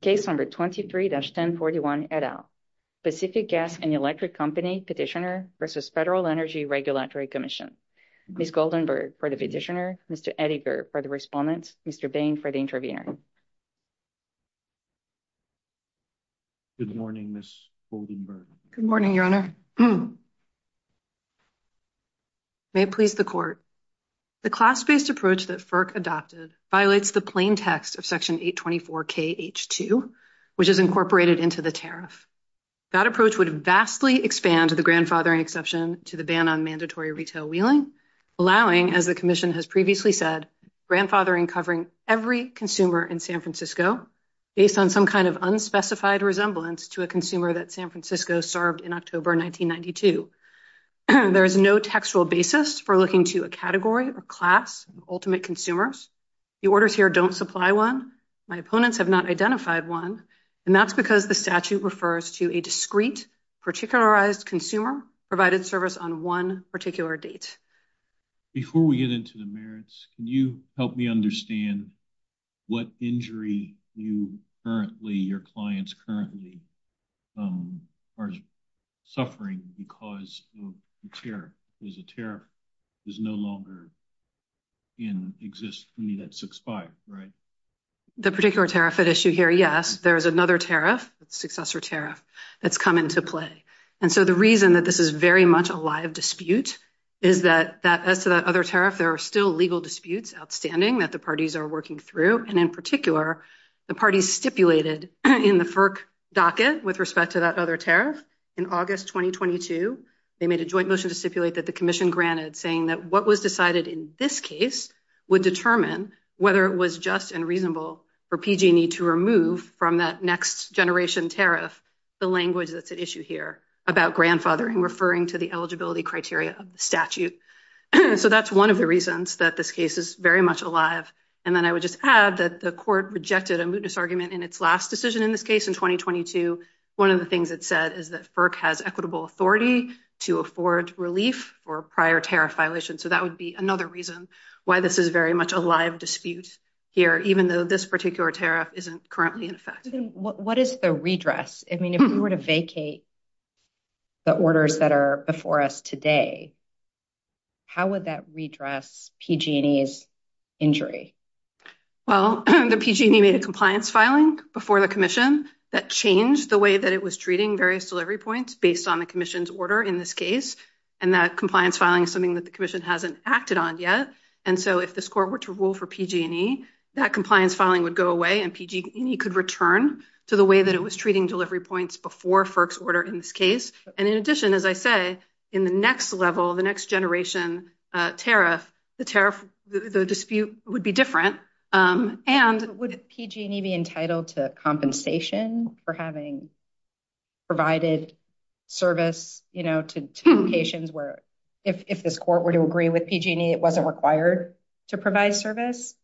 Case number 23-1041 et al. Pacific Gas and Electric Company Petitioner v. Federal Energy Regulatory Commission. Ms. Goldenberg for the petitioner, Mr. Ettinger for the respondent, Mr. Bain for the intervener. Good morning, Ms. Goldenberg. Good morning, Your Honor. May it please the Court. The class-based approach that FERC adopted violates the plain text of 824KH2, which is incorporated into the tariff. That approach would vastly expand the grandfathering exception to the ban on mandatory retail wheeling, allowing, as the Commission has previously said, grandfathering covering every consumer in San Francisco based on some kind of unspecified resemblance to a consumer that San Francisco served in October 1992. There is no textual My opponents have not identified one, and that's because the statute refers to a discreet, particularized consumer provided service on one particular date. Before we get into the merits, can you help me understand what injury you currently, your clients currently, are suffering because of the tariff? Because the tariff is no longer in existence. I mean, it's expired, right? The particular tariff at issue here, yes, there's another tariff, successor tariff, that's come into play. And so the reason that this is very much a live dispute is that, as to that other tariff, there are still legal disputes outstanding that the parties are working through. And in particular, the parties stipulated in the FERC docket with respect to that other tariff in August 2022, they made a joint motion to stipulate that the commission granted saying that what was decided in this case would determine whether it was just and reasonable for PG&E to remove from that next generation tariff, the language that's at issue here about grandfathering referring to the eligibility criteria statute. So that's one of the reasons that this case is very much alive. And then I would just add that the court rejected a moot disargument in its last decision in this case in 2022. One of the things it said is that for prior tariff violations. So that would be another reason why this is very much a live dispute here, even though this particular tariff isn't currently in effect. What is the redress? I mean, if we were to vacate the orders that are before us today, how would that redress PG&E's injury? Well, the PG&E made a compliance filing before the commission that changed the way that it was treating various delivery points based on the commission's order in this case. And that compliance filing is something that the commission hasn't acted on yet. And so if this court were to rule for PG&E, that compliance filing would go away and PG&E could return to the way that it was treating delivery points before FERC's order in this case. And in addition, as I say, in the next level, the next generation tariff, the dispute would be different. And would PG&E be entitled to if this court were to agree with PG&E it wasn't required to provide service?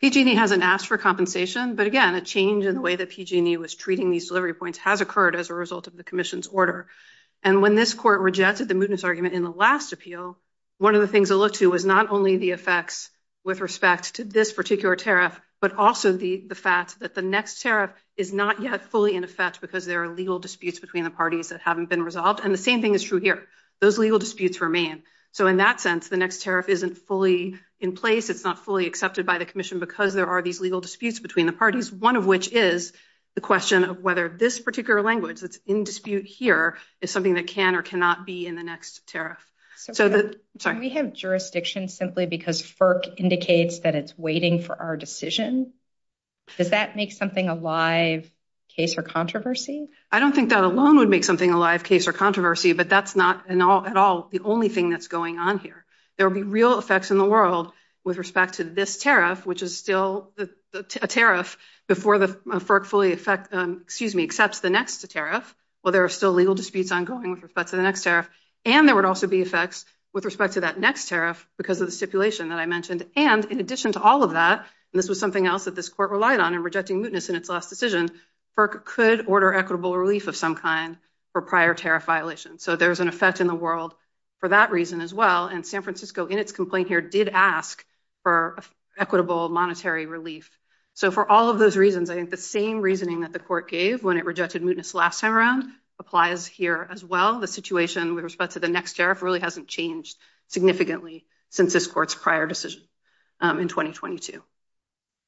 PG&E hasn't asked for compensation, but again, a change in the way that PG&E was treating these delivery points has occurred as a result of the commission's order. And when this court rejected the mootness argument in the last appeal, one of the things it looked to was not only the effects with respect to this particular tariff, but also the fact that the next tariff is not yet fully in effect because there are legal disputes between the parties that haven't been resolved. And the same thing is true here. Those legal disputes remain. So in that sense, the next tariff isn't fully in place. It's not fully accepted by the commission because there are these legal disputes between the parties, one of which is the question of whether this particular language that's in dispute here is something that can or cannot be in the next tariff. So the... Sorry. Can we have jurisdiction simply because FERC indicates that it's waiting for our decision? Does that make something a live case or controversy? I don't think that alone would make something a live case or controversy, but that's not at all the only thing that's going on here. There'll be real effects in the world with respect to this tariff, which is still a tariff before the FERC fully accepts the next tariff, while there are still legal disputes ongoing with respect to the next tariff. And there would also be effects with respect to that next tariff because of the stipulation that I mentioned. And in addition to all of that, and this was something else that this court relied on in rejecting mootness in its last decision, FERC could order equitable relief of some kind for prior tariff violations. So there's an effect in the world for that reason as well. And San Francisco in its complaint here did ask for equitable monetary relief. So for all of those reasons, I think the same reasoning that the court gave when it rejected mootness last time around applies here as well. The situation with respect to the next tariff really hasn't changed significantly since this court's prior decision in 2022.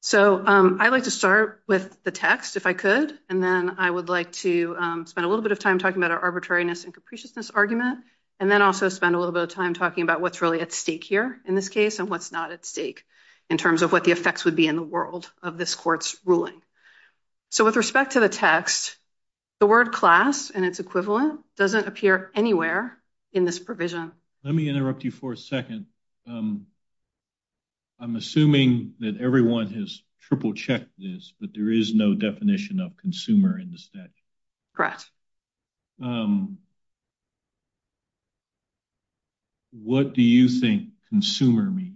So I'd like to start with the text if I could, and then I would like to spend a little bit of time talking about our arbitrariness and capriciousness argument, and then also spend a little bit of time talking about what's really at stake here in this case and what's not at stake in terms of what the effects would be in the world of this court's ruling. So with respect to the text, the word class and its equivalent doesn't appear anywhere in this provision. Let me interrupt you for a second. I'm assuming that everyone has triple checked this, but there is no definition of consumer in this text. Correct. What do you think consumer means?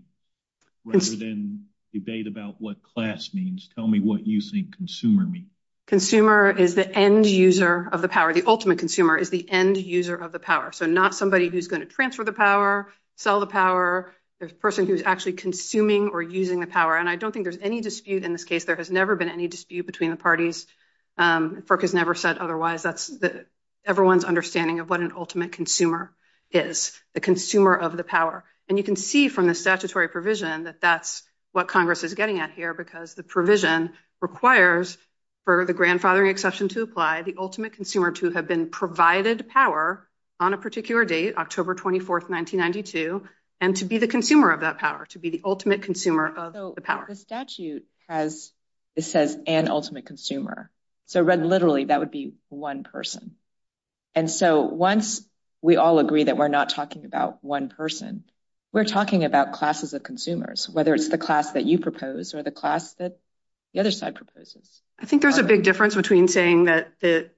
Rather than debate about what class means, tell me what you think consumer means. Consumer is the end user of the power. The ultimate consumer is the end user of the power. So not somebody who's going to transfer the power, sell the power. There's a person who's actually consuming or using the power, and I don't think there's any dispute in this case. There has never been any dispute between the parties. FERC has never said otherwise. That's everyone's understanding of what an ultimate consumer is, the consumer of the power. And you can see from the statutory provision that that's what Congress is getting at here because the provision requires for the grandfathering to apply, the ultimate consumer to have been provided power on a particular date, October 24, 1992, and to be the consumer of that power, to be the ultimate consumer of the power. So the statute has, it says, an ultimate consumer. So read literally, that would be one person. And so once we all agree that we're not talking about one person, we're talking about classes of consumers, whether it's the class that you propose or the class that the other side proposes. I think there's a big difference between saying that the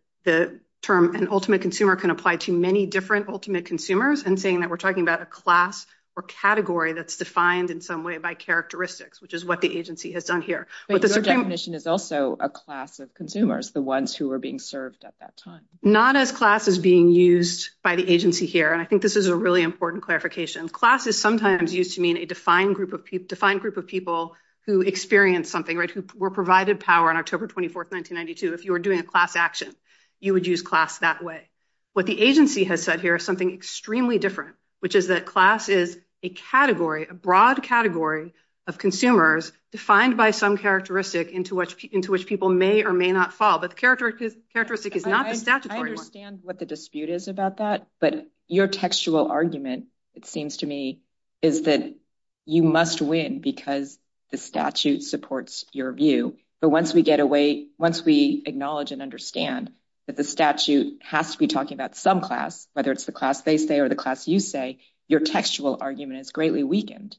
term an ultimate consumer can apply to many different ultimate consumers and saying that we're talking about a class or category that's defined in some way by characteristics, which is what the agency has done here. But the definition is also a class of consumers, the ones who were being served at that time. Not as classes being used by the agency here. I think this is a really important clarification. Class is sometimes used to mean a defined group of people who experience something. If you were provided power on October 24, 1992, if you were doing a class action, you would use class that way. What the agency has said here is something extremely different, which is that class is a category, a broad category of consumers defined by some characteristic into which people may or may not fall. But the characteristic is not the statutory. I understand what the dispute is about that, but your textual argument, it seems to me, is that you must win because the statute supports your view. But once we get away, once we acknowledge and understand that the statute has to be talking about some class, whether it's the class they say or the class you say, your textual argument is greatly weakened.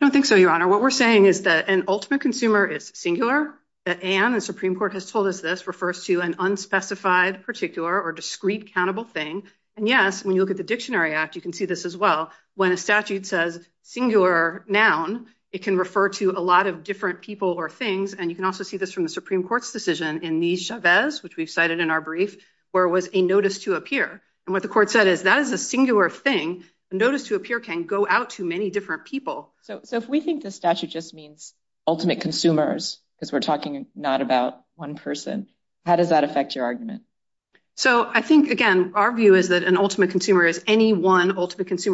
I don't think so, Your Honor. What we're saying is that an ultimate consumer is singular, that Anne, the Supreme Court has told us this, refers to an unspecified particular or discrete countable thing. And yes, when you look at the Dictionary Act, you can see this as well. When a statute says singular noun, it can refer to a lot of different people or things. And you can also see this from the Supreme Court's decision in Mi Chavez, which we've cited in our brief, where it was a notice to appear. And what the court said is that is a singular thing. A notice to appear can go out to many different people. So if we think the statute just means ultimate consumers, because we're talking not about one person, how does that affect your argument? So I think, again, our view is that an ultimate consumer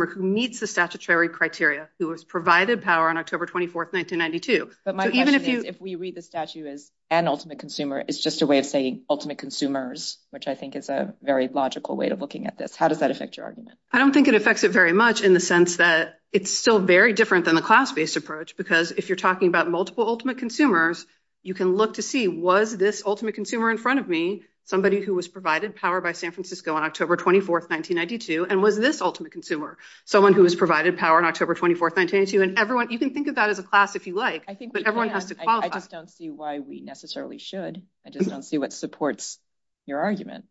who meets the statutory criteria, who was provided power on October 24th, 1992. But my question is, if we read the statute as an ultimate consumer, it's just a way of saying ultimate consumers, which I think is a very logical way of looking at this. How does that affect your argument? I don't think it affects it very much in the sense that it's still very different than the class-based approach, because if you're talking about multiple ultimate consumers, you can look to see, was this ultimate consumer in front of me, somebody who was provided power by San Francisco on October 24th, 1992, and was this ultimate consumer, someone who was provided power on October 24th, 1992? And everyone, you can think of that as a class if you like, but everyone has to qualify. I just don't see why we necessarily should. I just don't see what supports your argument.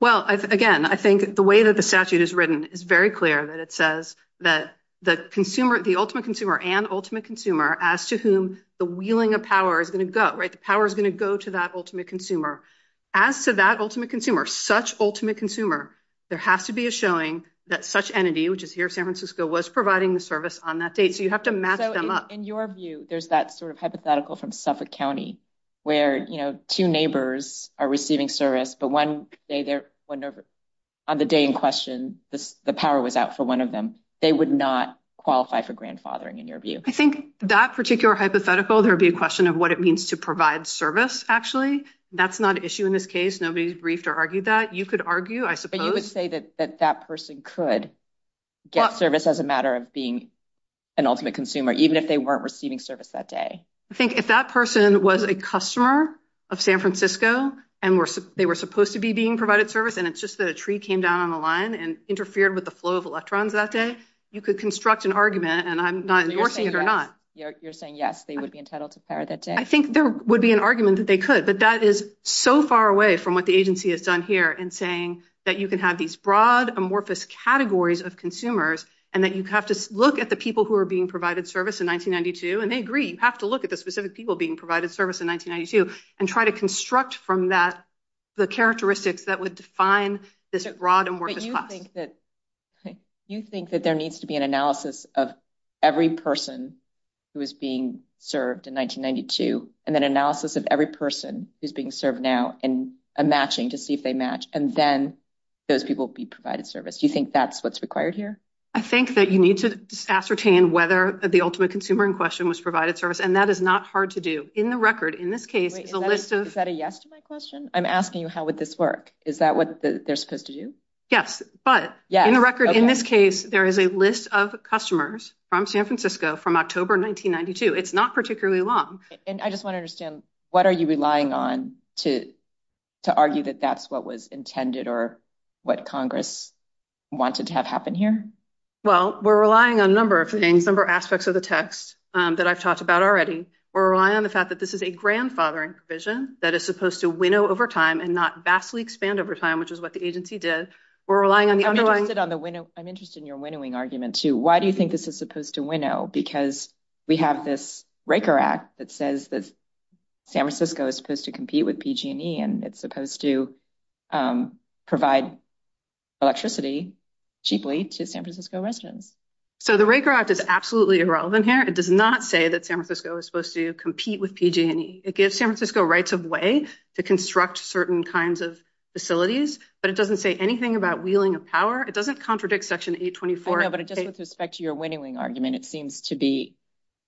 Well, again, I think the way that the statute is written, it's very clear that it says that the consumer, the ultimate consumer and ultimate consumer, as to whom the wheeling of power is going to go, right? The power is going to go to that ultimate consumer. As to that ultimate consumer, such ultimate consumer, there has to be a showing that such entity, which is here, San Francisco, was providing the service on that date. So you have to map them up. In your view, there's that sort of hypothetical from Suffolk County, where, you know, two neighbors are receiving service, but on the day in question, the power was out for one of them. They would not qualify for grandfathering, in your view. I think that particular hypothetical, there would be a question of what it means to provide service, actually. That's not an issue in this case. I don't think that the statute would be too brief to argue that. You could argue, I suppose. And you would say that that person could get service as a matter of being an ultimate consumer, even if they weren't receiving service that day. I think if that person was a customer of San Francisco, and they were supposed to be being provided service, and it's just that a tree came down on the line and interfered with the flow of electrons that day, you could construct an argument, and I'm not endorsing it or not. You're saying yes, they would be entitled to power that day. I think there would be an argument that they could, but that is so far away from what the agency has done here in saying that you can have these broad, amorphous categories of consumers, and that you have to look at the people who are being provided service in 1992, and they agree, you have to look at the specific people being provided service in 1992, and try to construct from that the characteristics that would define this broad, amorphous class. But you think that there needs to be an analysis of every person who is being served in 1992, and then analysis of every person who's being served now, and a matching to see if they match, and then those people be provided service. You think that's what's required here? I think that you need to ascertain whether the ultimate consumer in question was provided service, and that is not hard to do. In the record, in this case, the list of... Is that a yes to my question? I'm asking you how would this work. Is that what they're supposed to do? Yes, but in the record, in this case, there is a list of customers from San Francisco from October 1992. It's not particularly long. And I just want to understand, what are you relying on to argue that that's what was intended or what Congress wanted to have happen here? Well, we're relying on a number of things, a number of aspects of the text that I've talked about already. We're relying on the fact that this is a grandfathering provision that is supposed to agency did. We're relying on the underlying... I'm interested in your winnowing argument, too. Why do you think this is supposed to winnow? Because we have this Raker Act that says that San Francisco is supposed to compete with PG&E, and it's supposed to provide electricity cheaply to San Francisco residents. So the Raker Act is absolutely irrelevant here. It does not say that San Francisco is supposed to compete with PG&E. It gives San Francisco rights of way to PG&E. But it doesn't say anything about wheeling of power. It doesn't contradict Section 824. No, but it doesn't suspect your winnowing argument. It seems to be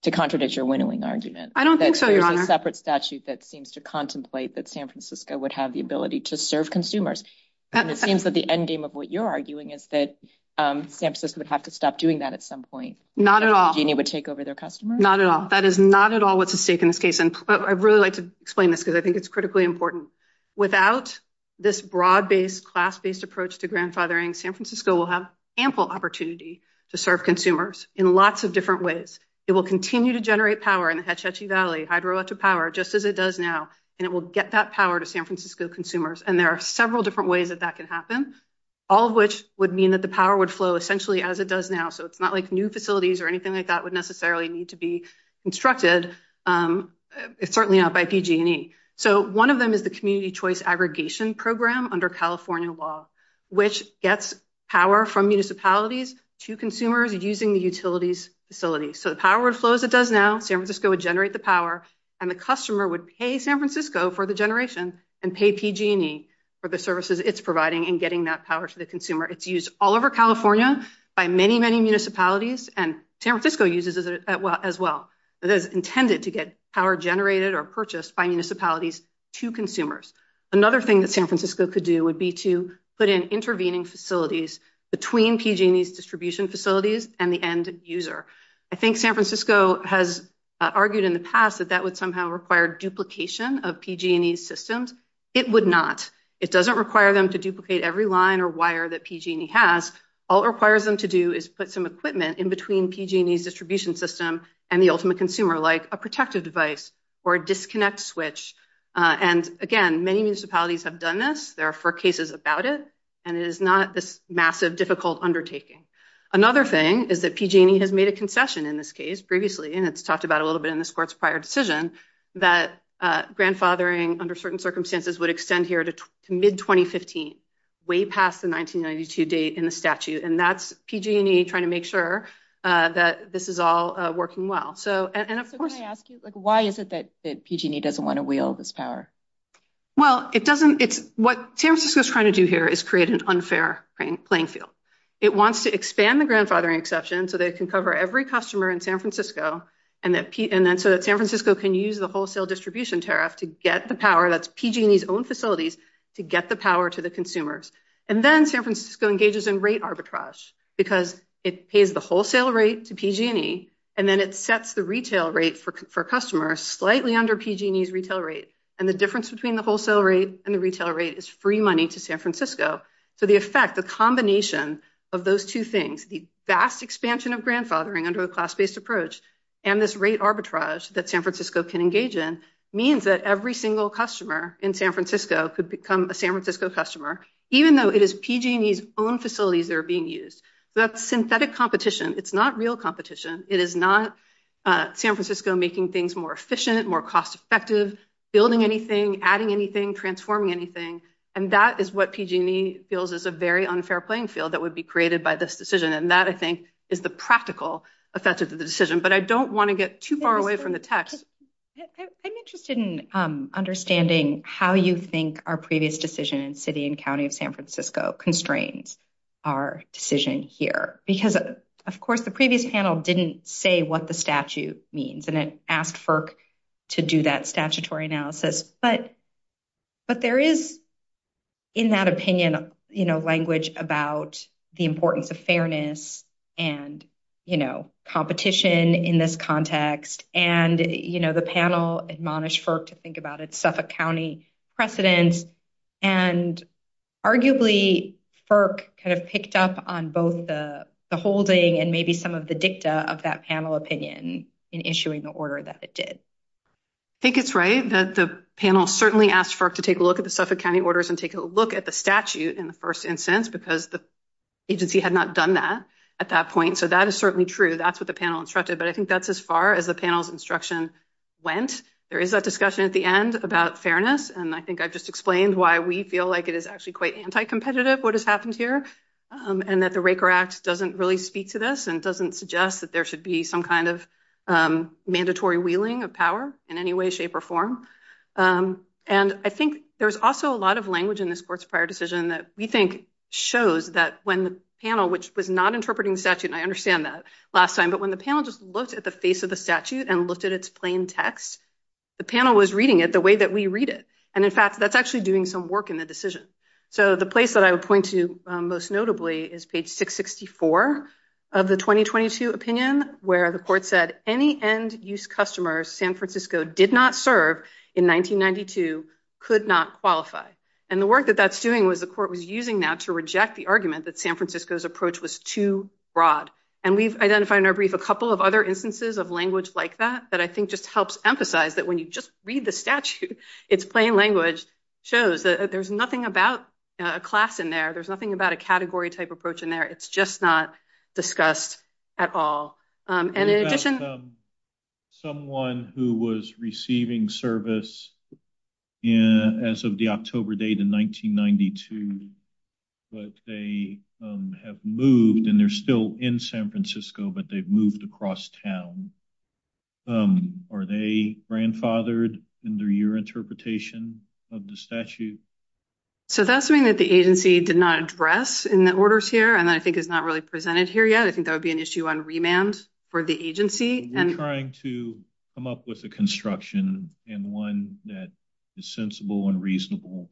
to contradict your winnowing argument. I don't think so, Your Honor. That's a separate statute that seems to contemplate that San Francisco would have the ability to serve consumers. And it seems that the endgame of what you're arguing is that San Francisco would have to stop doing that at some point. Not at all. PG&E would take over their customers. Not at all. That is not at all what's at stake in this case. And I'd really like to explain this, because I think it's critically important. Without this broad-based, class-based approach to grandfathering, San Francisco will have ample opportunity to serve consumers in lots of different ways. It will continue to generate power in the Hetch Hetchy Valley, hydroelectric power, just as it does now. And it will get that power to San Francisco consumers. And there are several different ways that that can happen, all of which would mean that the power would flow essentially as it does now. So it's not like new facilities or anything that would necessarily need to be constructed, certainly not by PG&E. So one of them is the Community Choice Aggregation Program under California law, which gets power from municipalities to consumers using the utilities facilities. So the power flows as it does now. San Francisco would generate the power, and the customer would pay San Francisco for the generation and pay PG&E for the services it's providing and getting that power to the consumer. It's used all over California by many, many municipalities, and San Francisco uses it as well. It is intended to get power generated or purchased by municipalities to consumers. Another thing that San Francisco could do would be to put in intervening facilities between PG&E's distribution facilities and the end user. I think San Francisco has argued in the past that that would somehow require duplication of PG&E systems. It would not. It doesn't require them to duplicate every PG&E has. All it requires them to do is put some equipment in between PG&E's distribution system and the ultimate consumer, like a protective device or a disconnect switch. And again, many municipalities have done this. There are four cases about it, and it is not this massive, difficult undertaking. Another thing is that PG&E has made a concession in this case previously, and it's talked about a little bit in this court's prior decision, that grandfathering under certain statute. And that's PG&E trying to make sure that this is all working well. Why is it that PG&E doesn't want to wield this power? Well, what San Francisco is trying to do here is create an unfair playing field. It wants to expand the grandfathering exception so they can cover every customer in San Francisco, and then so that San Francisco can use the wholesale distribution tariff to get the power that's PG&E's own facilities to get the power to the consumers. And then San Francisco engages in rate arbitrage because it pays the wholesale rate to PG&E, and then it sets the retail rate for customers slightly under PG&E's retail rate. And the difference between the wholesale rate and the retail rate is free money to San Francisco. So the effect, the combination of those two things, the vast expansion of grandfathering under a class-based approach and this rate arbitrage that San Francisco can engage in, means that every single customer in San Francisco could become a San Francisco customer, even though it is PG&E's own facilities that are being used. That's synthetic competition. It's not real competition. It is not San Francisco making things more efficient, more cost-effective, building anything, adding anything, transforming anything. And that is what PG&E feels is a very unfair playing field that would be created by this decision. And that, I think, is the practical effect of the decision. But I don't want to get too far away from the text. I'm interested in understanding how you think our previous decision in city and county of San Francisco constrains our decision here. Because, of course, the previous panel didn't say what the statute means, and it asked FERC to do that statutory analysis. But there is, in that opinion, language about the importance of fairness and competition in this context. And, you know, the panel admonished FERC to think about its Suffolk County precedent. And, arguably, FERC kind of picked up on both the holding and maybe some of the dicta of that panel opinion in issuing the order that it did. I think it's right that the panel certainly asked FERC to take a look at the Suffolk County orders and take a look at the statute in the first instance, because the agency had not done that at that point. So that is certainly true. That's what the panel instructed. But I think that's as far as the panel's instruction went. There is that discussion at the end about fairness. And I think I've just explained why we feel like it is actually quite anti-competitive, what has happened here, and that the Raker Act doesn't really speak to this and doesn't suggest that there should be some kind of mandatory wheeling of power in any way, shape, or form. And I think there's also a lot of language in this court's prior decision that we think shows that when the panel, which was not interpreting the statute, and I understand that last time, but when the panel just looked at the face of the statute and looked at its plain text, the panel was reading it the way that we read it. And in fact, that's actually doing some work in the decision. So the place that I would point to most notably is page 664 of the 2022 opinion, where the court said any end-use customers San Francisco did not serve in 1992 could not qualify. And the work that that's doing was the court was using that to reject the argument that San Francisco did not serve in 1992. And I identified in our brief a couple of other instances of language like that, that I think just helps emphasize that when you just read the statute, it's plain language, shows that there's nothing about a class in there. There's nothing about a category type approach in there. It's just not discussed at all. And in addition... But they've moved across town. Are they grandfathered in their year interpretation of the statute? So that's something that the agency did not address in the orders here, and I think it's not really presented here yet. I think that would be an issue on remands for the agency. We're trying to come up with a construction and one that is sensible and reasonable.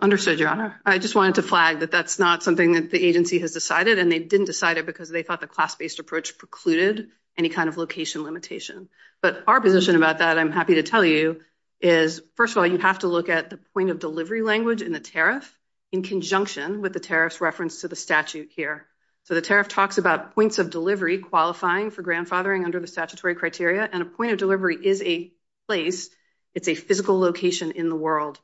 Understood, Your Honor. I just wanted to flag that that's not something that the agency has decided, and they didn't decide it because they thought the class-based approach precluded any kind of location limitation. But our position about that, I'm happy to tell you, is first of all, you have to look at the point of delivery language in the tariff in conjunction with the tariff's reference to the statute here. So the tariff talks about points of delivery qualifying for grandfathering under the statutory criteria, and a point of delivery is a place. It's a physical location in the world.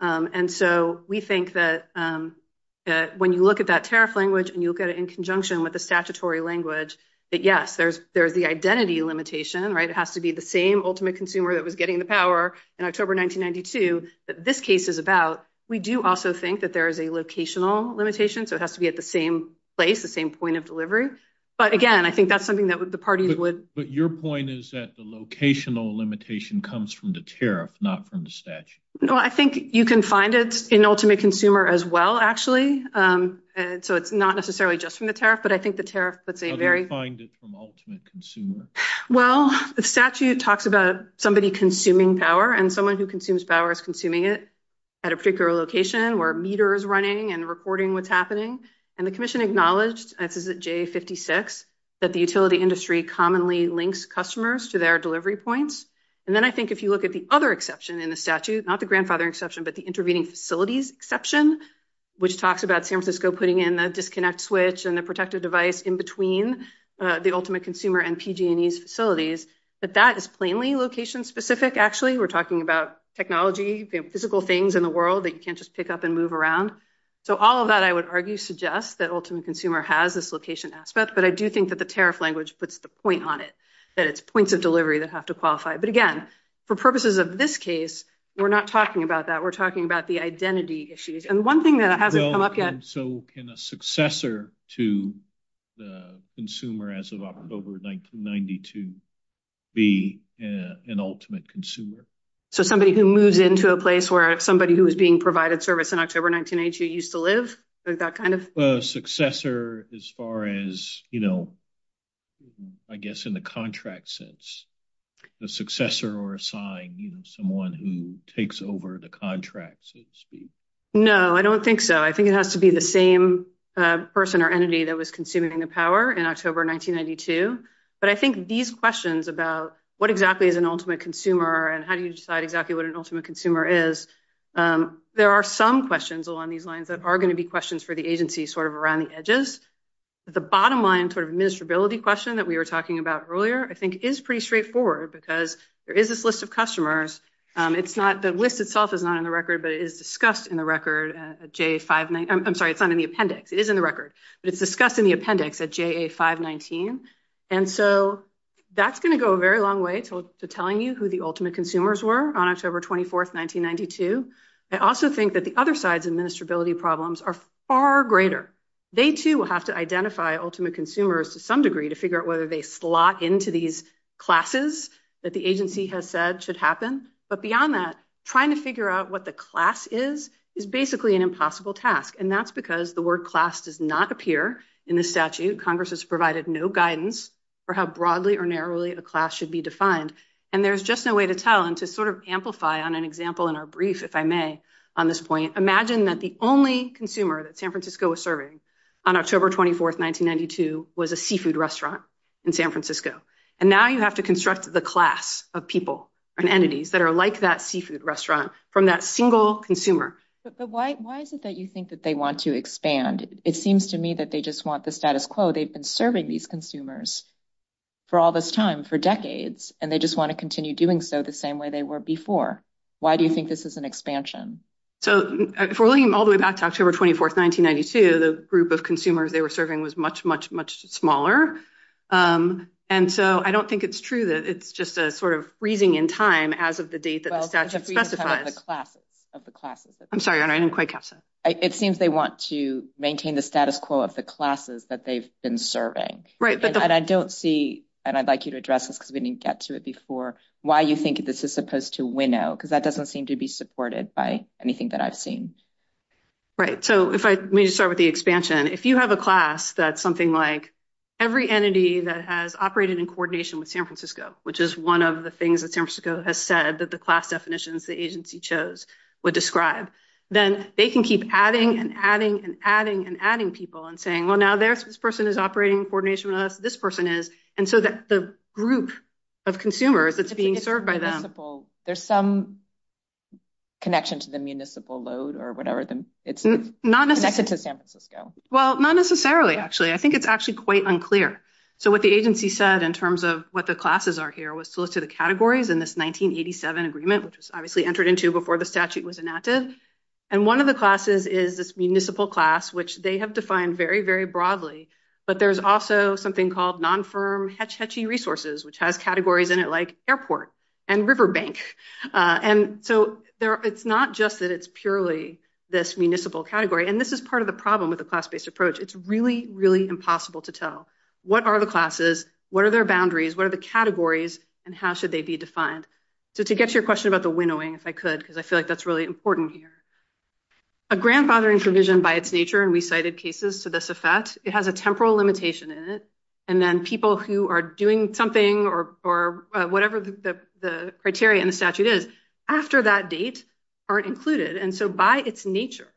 And so we think that when you look at tariff language and you look at it in conjunction with the statutory language, that yes, there's the identity limitation, right? It has to be the same ultimate consumer that was getting the power in October 1992 that this case is about. We do also think that there is a locational limitation, so it has to be at the same place, the same point of delivery. But again, I think that's something that the party would... But your point is that the locational limitation comes from the tariff, not from the statute. Well, I think you can find it in ultimate consumer as well, actually. So it's not necessarily just from the tariff, but I think the tariff... How do you find it from ultimate consumer? Well, the statute talks about somebody consuming power and someone who consumes power is consuming it at a particular location where a meter is running and recording what's happening. And the commission acknowledged, as is at J56, that the utility industry commonly links customers to their delivery points. And then I think if you look at the other exception in the statute, not the grandfather exception, but the intervening facilities exception, which talks about San Francisco putting in the disconnect switch and the protective device in between the ultimate consumer and PG&E facilities, that that is plainly location-specific, actually. We're talking about technology, the physical things in the world that you can't just pick up and move around. So all of that, I would argue, suggests that ultimate consumer has this location aspect, but I do think that the tariff language puts the point on it, that it's points of delivery that have to qualify. But again, for purposes of this case, we're not talking about that. We're talking about the identity issues. And one thing that hasn't come up yet... Well, and so can a successor to the consumer as of October 1992 be an ultimate consumer? So somebody who moves into a place where somebody who was being provided service in October 1992 used to live? Is that kind of... A successor as far as, I guess, in the contract sense. The successor or a sign, someone who takes over the contract, so to speak. No, I don't think so. I think it has to be the same person or entity that was consuming the power in October 1992. But I think these questions about what exactly is an ultimate consumer and how do you decide exactly what an ultimate consumer is, there are some questions along these lines that are going to be questions for the agency sort of around the edges. But the bottom line sort of administrability question that we were talking about earlier, I think, is pretty straightforward because there is this list of customers. The list itself is not in the record, but it is discussed in the record at JA5... I'm sorry, it's not in the appendix. It is in the record, but it's discussed in the appendix at JA519. And so that's going to go a very long way to telling you who the ultimate consumer is, and who the ultimate consumer is. And so, in terms of the ultimate consumer, on October 24th, 1992, I also think that the other side's administrability problems are far greater. They too will have to identify ultimate consumers to some degree to figure out whether they slot into these classes that the agency has said should happen. But beyond that, trying to figure out what the class is is basically an impossible task. And that's because the word class does not appear in the statute. Congress has provided no guidance for how broadly or narrowly a class should be defined. And there's just no way to tell. And to sort of amplify on an example in our brief, if I may, on this point, imagine that the only consumer that San Francisco was serving on October 24th, 1992, was a seafood restaurant in San Francisco. And now you have to construct the class of people and entities that are like that seafood restaurant from that single consumer. But why is it that you think that they want to expand? It seems to me that they just want the status quo. They've been serving these consumers for all this time, for decades, and they just want to continue doing so the same way they were before. Why do you think this is an expansion? So, if we're looking all the way back to October 24th, 1992, the group of consumers they were serving was much, much, much smaller. And so, I don't think it's true that it's just sort of freezing in time as of the date that the statute specifies. I'm sorry, I didn't quite catch that. It seems they want to maintain the status quo of the classes that they've been serving. Right. And I don't see, and I'd like you to address this, because we didn't get to it before, why you think this is supposed to winnow? Because that doesn't seem to be supported by anything that I've seen. Right. So, let me just start with the expansion. If you have a class that's something like every entity that has operated in coordination with San Francisco has said that the class definitions the agency chose would describe, then they can keep adding and adding and adding and adding people and saying, well, now this person is operating in coordination with us, this person is. And so, the group of consumers that's being served by them. There's some connection to the municipal load or whatever. It's connected to San Francisco. Well, not necessarily, actually. I think it's actually quite unclear. So, what the categories in this 1987 agreement, which is obviously entered into before the statute was enacted. And one of the classes is this municipal class, which they have defined very, very broadly. But there's also something called non-firm Hetch Hetchy resources, which has categories in it like airport and river bank. And so, it's not just that it's purely this municipal category. And this is part of the problem with the class-based approach. It's really, really impossible to tell what are the classes, what are their boundaries, what are the categories, and how should they be defined. So, to get to your question about the winnowing, if I could, because I feel like that's really important here. A grandfathering provision by its nature, and we cited cases to this effect, it has a temporal limitation in it. And then people who are doing something or whatever the criteria in the statute is, after that date are included. And so, by its nature,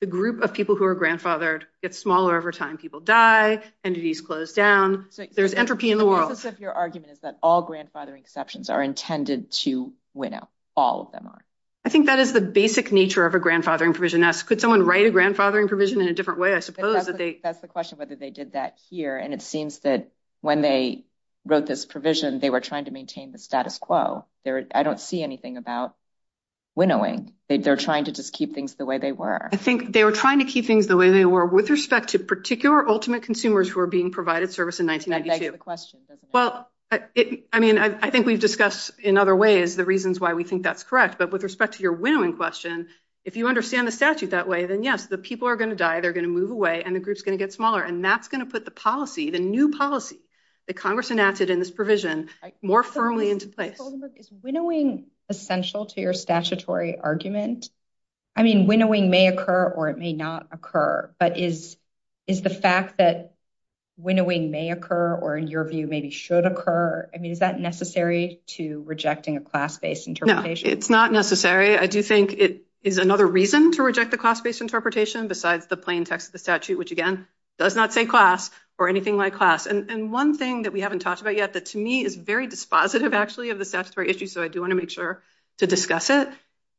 the group of people who are grandfathered gets smaller over time. People die, entities close down. There's entropy in the world. So, your argument is that all grandfathering exceptions are intended to winnow. All of them are. I think that is the basic nature of a grandfathering provision. Could someone write a grandfathering provision in a different way, I suppose? That's the question, whether they did that here. And it seems that when they wrote this provision, they were trying to maintain the status quo. I don't see anything about winnowing. They're trying to just keep things the way they were. I think they were trying to keep things the way they were with respect to particular ultimate consumers who were being provided service in 1992. That's the question, isn't it? Well, I mean, I think we've discussed in other ways the reasons why we think that's correct. But with respect to your winnowing question, if you understand the statute that way, then yes, the people are going to die, they're going to move away, and the group's going to get smaller. And that's going to put the policy, the new policy that Congress enacted in this provision, more firmly into place. Is winnowing essential to your statutory argument? I mean, winnowing may occur, or it may not occur. But is the fact that winnowing may occur, or in your view, maybe should occur, I mean, is that necessary to rejecting a class-based interpretation? No, it's not necessary. I do think it is another reason to reject the class-based interpretation besides the plain text of the statute, which, again, does not say class or anything like class. And one thing that we haven't talked about yet that, to me, is very dispositive, actually, of the statutory issue, so I do want to make sure to discuss it,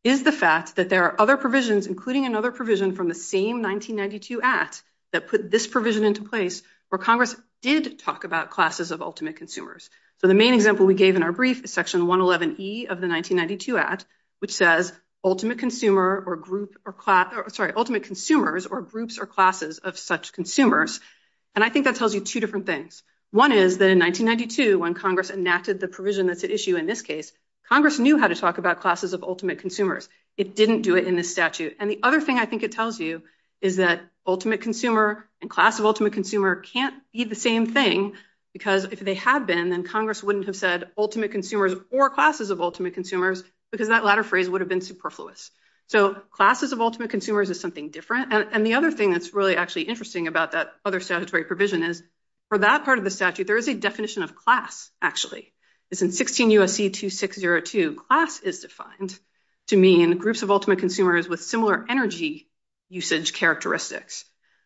is the fact that there are other provisions, including another provision from the same 1992 Act that put this provision into place where Congress did talk about classes of ultimate consumers. So the main example we gave in our brief is Section 111E of the 1992 Act, which says ultimate consumer or group or class, sorry, ultimate consumers or groups or classes of such consumers. And I think that tells you two different things. One is that in 1992, when Congress enacted the provision that's at issue in this case, Congress knew how to talk about classes of ultimate consumers. It didn't do it in the statute. And the other thing I think it tells you is that ultimate consumer and class of ultimate consumer can't be the same thing because if they had been, then Congress wouldn't have said ultimate consumers or classes of ultimate consumers because that latter phrase would have been superfluous. So classes of ultimate consumers is something different. And the other thing that's really actually interesting about that other statutory provision is for that part of the statute, there is a definition of class, actually. It's in 16 U.S.C. 2602. Class is defined to mean groups of ultimate consumers with similar energy usage characteristics.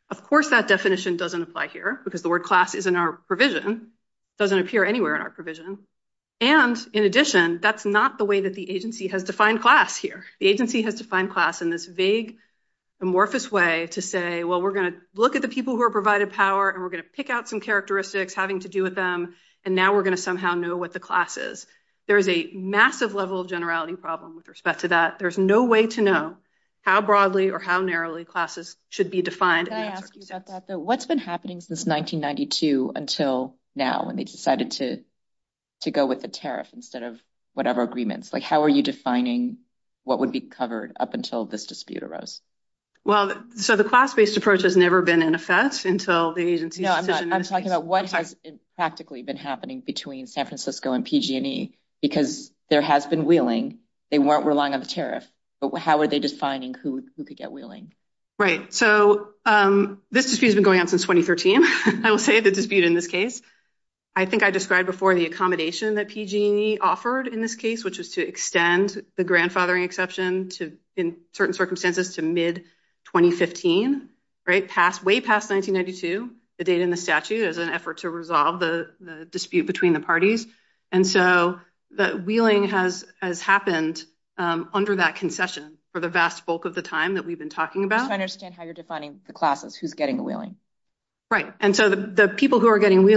Of course, that definition doesn't apply here because the word class is in our provision. It doesn't appear anywhere in our provision. And in addition, that's not the way that the agency has defined class here. The agency has defined class in this vague, amorphous way to say, well, we're going to look at the people who are provided power and we're going to pick out some characteristics having to do with them, and now we're going to somehow know what the class is. There is a massive level of generality problem with respect to that. There's no way to know how broadly or how narrowly classes should be defined. Can I ask you about that, though? What's been happening since 1992 until now when they decided to go with the tariff instead of whatever agreements? Like, how are you defining what would be covered up until this dispute arose? Well, so the class-based approach has never been in effect until the agency- No, I'm talking about what has practically been happening between San Francisco and PG&E because there has been wheeling. They weren't relying on the tariff, but how are they defining who could get wheeling? Right. So this dispute has been going on since 2013, I will say, the dispute in this case. I think I described before the accommodation that PG&E offered in this case, which was to extend the grandfathering exception in certain circumstances to mid-2015, way past 1992, the date in the statute, as an effort to resolve the dispute between the parties. And so the wheeling has happened under that concession for the vast bulk of the time that we've been talking about. I understand how you're defining the classes, who's getting the wheeling. Right. And so the people who are getting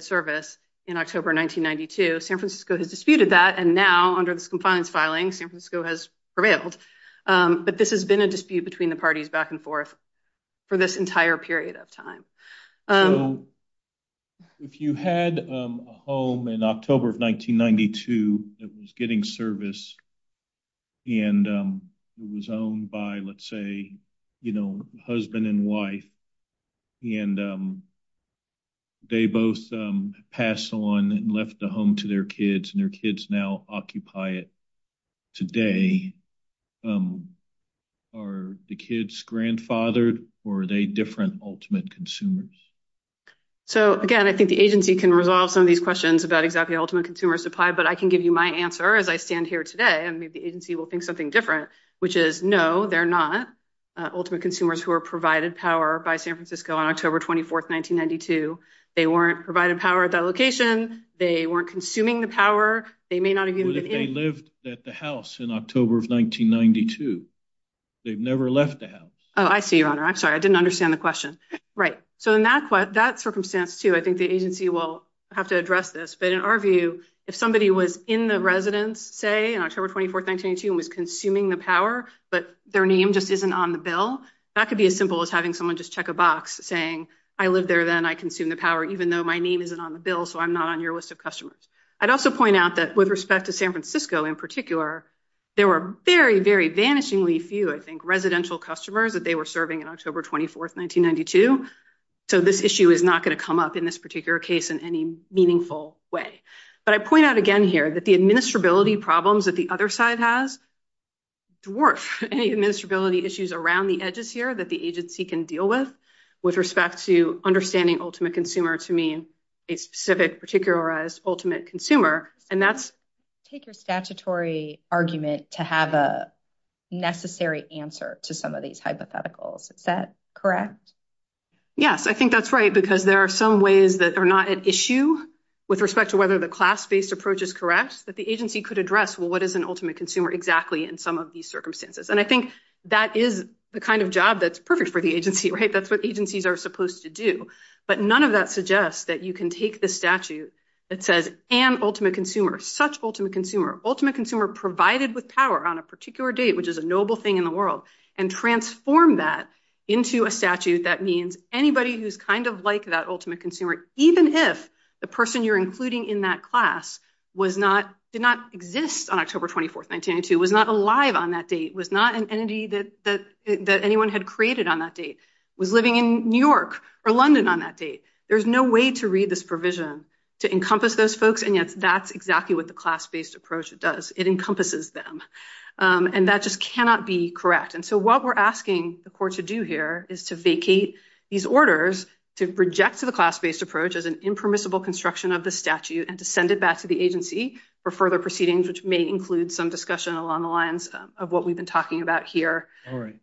service in October 1992, San Francisco had disputed that. And now under this compliance filing, San Francisco has prevailed. But this has been a dispute between the parties back and forth for this entire period of time. So if you had a home in October of 1992 that was getting service and it was owned by, let's say, husband and wife, and they both passed on and left the home to their kids and their kids now occupy it today. Are the kids grandfathered or are they different ultimate consumers? So again, I think the agency can resolve some of these questions about exactly ultimate consumer supply, but I can give you my answer as I stand here today. And maybe the agency will think something different, which is, no, they're not ultimate consumers who were provided power by San Francisco on October 24th, 1992. They weren't provided power at that location. They weren't consuming the power. They may not have used it. They lived at the house in October of 1992. They've never left the house. Oh, I see, Your Honor. I'm sorry. I didn't understand the question. Right. So in that circumstance too, I think the agency will have to address this. But in our view, if somebody was in the residence, say, on October 24th, 1992 and was consuming the power, but their name just isn't on the bill, that could be as simple as having someone just check a box saying, I lived there then, I consumed the power, even though my name isn't on the bill, so I'm not on your list of customers. I'd also point out that with respect to San Francisco in particular, there were very, very vanishingly few, I think, residential customers that they were serving on October 24th, 1992. So this issue is not going to come up in this particular case in any meaningful way. But I point out again here that the administrability problems that the other side has, it's worse. Any administrability issues around the edges here that the agency can deal with, with respect to understanding ultimate consumer to mean a specific, particularized, ultimate consumer, and that's- Take your statutory argument to have a hypothetical. Is that correct? Yes, I think that's right because there are some ways that are not an issue with respect to whether the class-based approach is correct, but the agency could address, well, what is an ultimate consumer exactly in some of these circumstances? And I think that is the kind of job that's perfect for the agency, right? That's what agencies are supposed to do. But none of that suggests that you can take the statute that says, an ultimate consumer, such ultimate consumer, ultimate consumer provided with power on a particular date, which is a noble thing in the world, and transform that into a statute that means anybody who's kind of like that ultimate consumer, even if the person you're including in that class did not exist on October 24th, 1992, was not alive on that date, was not an entity that anyone had created on that date, was living in New York or London on that date. There's no way to read this provision to encompass those folks, and yet that's exactly what the class-based approach does. It just cannot be correct. And so what we're asking the court to do here is to vacate these orders, to reject the class-based approach as an impermissible construction of the statute, and to send it back to the agency for further proceedings, which may include some discussion along the lines of what we've been talking about here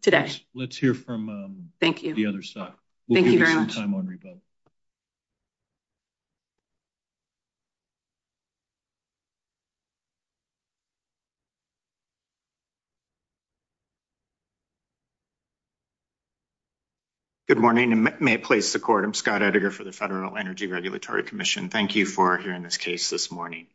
today. All right. Let's hear from the other side. Thank you. Thank you very much. Good morning, and may it please the court. I'm Scott Edgar for the Federal Energy Regulatory Commission. Thank you for hearing this case this morning.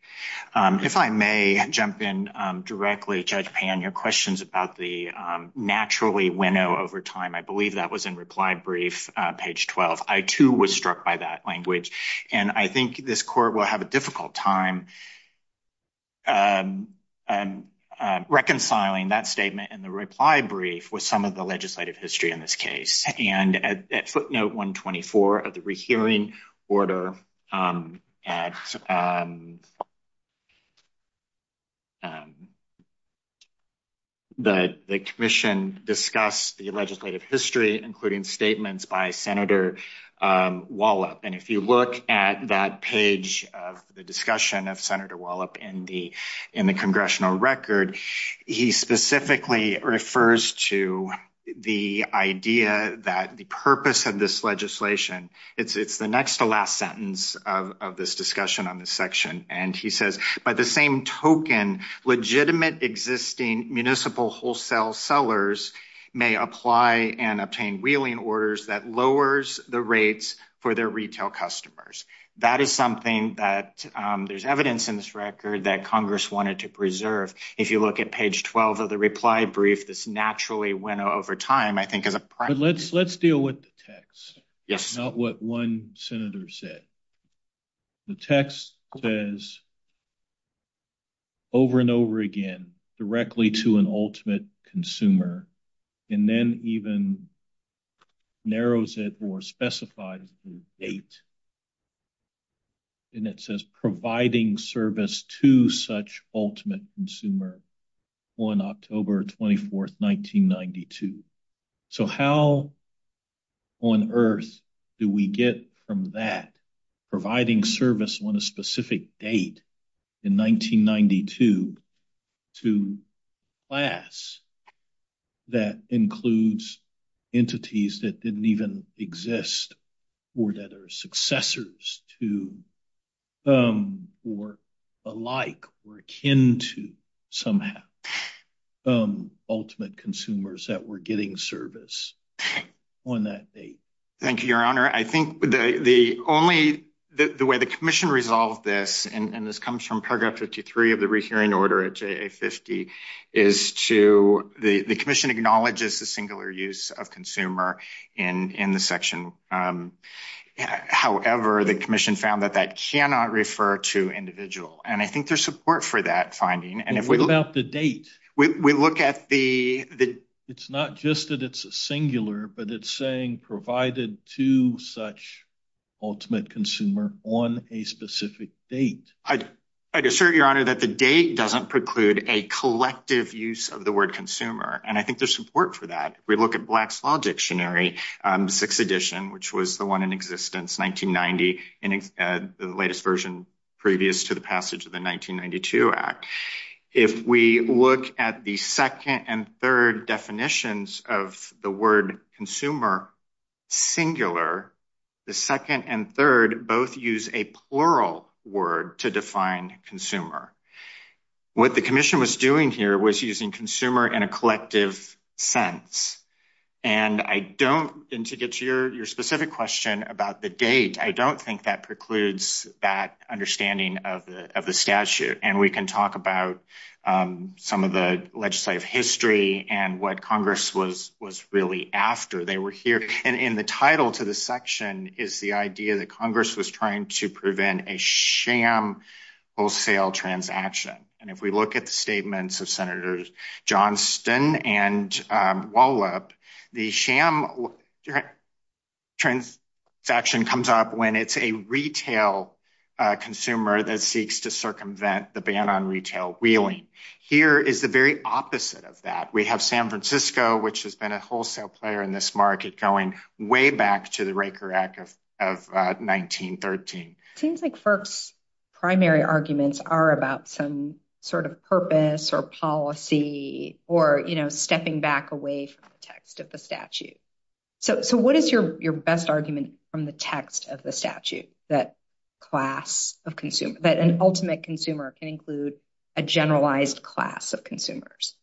If I may jump in directly, Judge Pan, your questions about the naturally winnow over time, I believe that was in reply brief, page 12. I too was struck by that language, and I think this court will have a difficult time reconciling that statement in the reply brief with some of the legislative history in this case. And at footnote 124 of the rehearing order, the commission discussed the legislative history, including statements by Senator Wallop. And if you look at that page of the discussion of Senator Wallop in the congressional record, he specifically refers to the idea that the purpose of this legislation, it's the next to last sentence of this discussion on this section, and he says, by the same token, legitimate existing municipal wholesale sellers may apply and obtain wheeling orders that lowers the rates for their retail customers. That is something that there's evidence in this record that Congress wanted to preserve. If you look at page 12 of the reply brief, this naturally winnow over time, I think, is a... Let's deal with the text. Yes. Not what one senator said. The text says over and over again, directly to an ultimate consumer, and then even narrows it or specified a date. And it says providing service to such ultimate consumer on October 24th, 1992. So how on earth do we get from that providing service on a specific date in 1992 to class that includes entities that didn't even exist or that are successors to, or alike, or akin to, somehow, ultimate consumers that were getting service on that date? Thank you, Your Honor. I think the only... The way the commission resolved this, and this comes from paragraph 53 of the re-hearing order at JA-50, is to... The commission acknowledges the singular use of consumer in the section. However, the commission found that that cannot refer to individual. And I think there's support for that finding. And if we look at the date, what is provided to such ultimate consumer on a specific date? I'd assert, Your Honor, that the date doesn't preclude a collective use of the word consumer. And I think there's support for that. If we look at Black's Law Dictionary, 6th edition, which was the one in existence 1990, the latest version previous to the passage of the singular, the second and third both use a plural word to define consumer. What the commission was doing here was using consumer in a collective sense. And I don't... And to get to your specific question about the date, I don't think that precludes that understanding of the statute. And we can talk about some of the legislative history and what to the section is the idea that Congress was trying to prevent a sham wholesale transaction. And if we look at the statements of Senators Johnston and Wallop, the sham transaction comes up when it's a retail consumer that seeks to circumvent the ban on retail wheeling. Here is the very opposite of that. We have San Francisco, which has been a wholesale player in this market, going way back to the Raker Act of 1913. It seems like FERC's primary arguments are about some sort of purpose or policy or stepping back away from the text of the statute. So what is your best argument from the text of the statute that class of consumer, that an ultimate consumer can include a generalized class of consumers?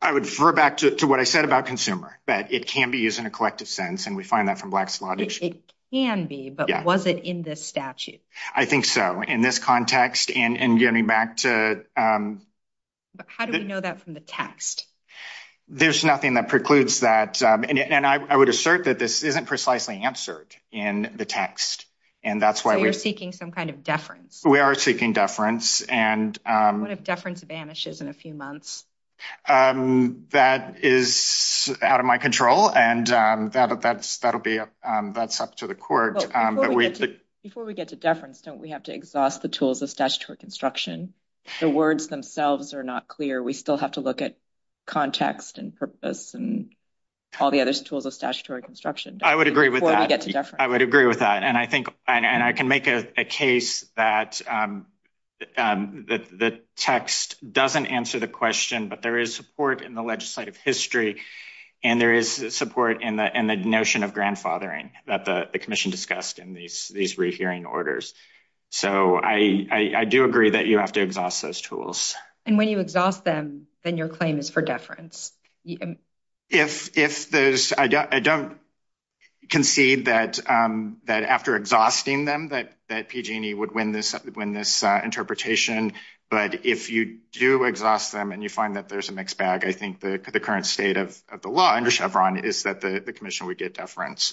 I would refer back to what I said about consumer, that it can be used in a collective sense. And we find that from black slave issue. It can be, but was it in this statute? I think so. In this context and getting back to... But how do we know that from the text? There's nothing that precludes that. And I would assert that this isn't precisely answered in the text. And that's why... We're seeking some kind of deference. We are seeking deference and... What if deference vanishes in a few months? That is out of my control. And that's up to the court. Before we get to deference, don't we have to exhaust the tools of statutory construction? The words themselves are not clear. We still have to look at context and purpose and all the other tools of statutory construction. I would agree with that. I would agree with that. And I can make a case that the text doesn't answer the question, but there is support in the legislative history. And there is support in the notion of grandfathering that the commission discussed in these rehearing orders. So I do agree that you have to exhaust those tools. And when you exhaust them, then your claim is for deference. And if there's... I don't concede that after exhausting them that PG&E would win this interpretation. But if you do exhaust them and you find that there's a mixed bag, I think the current state of the law under Chevron is that the commission would get deference.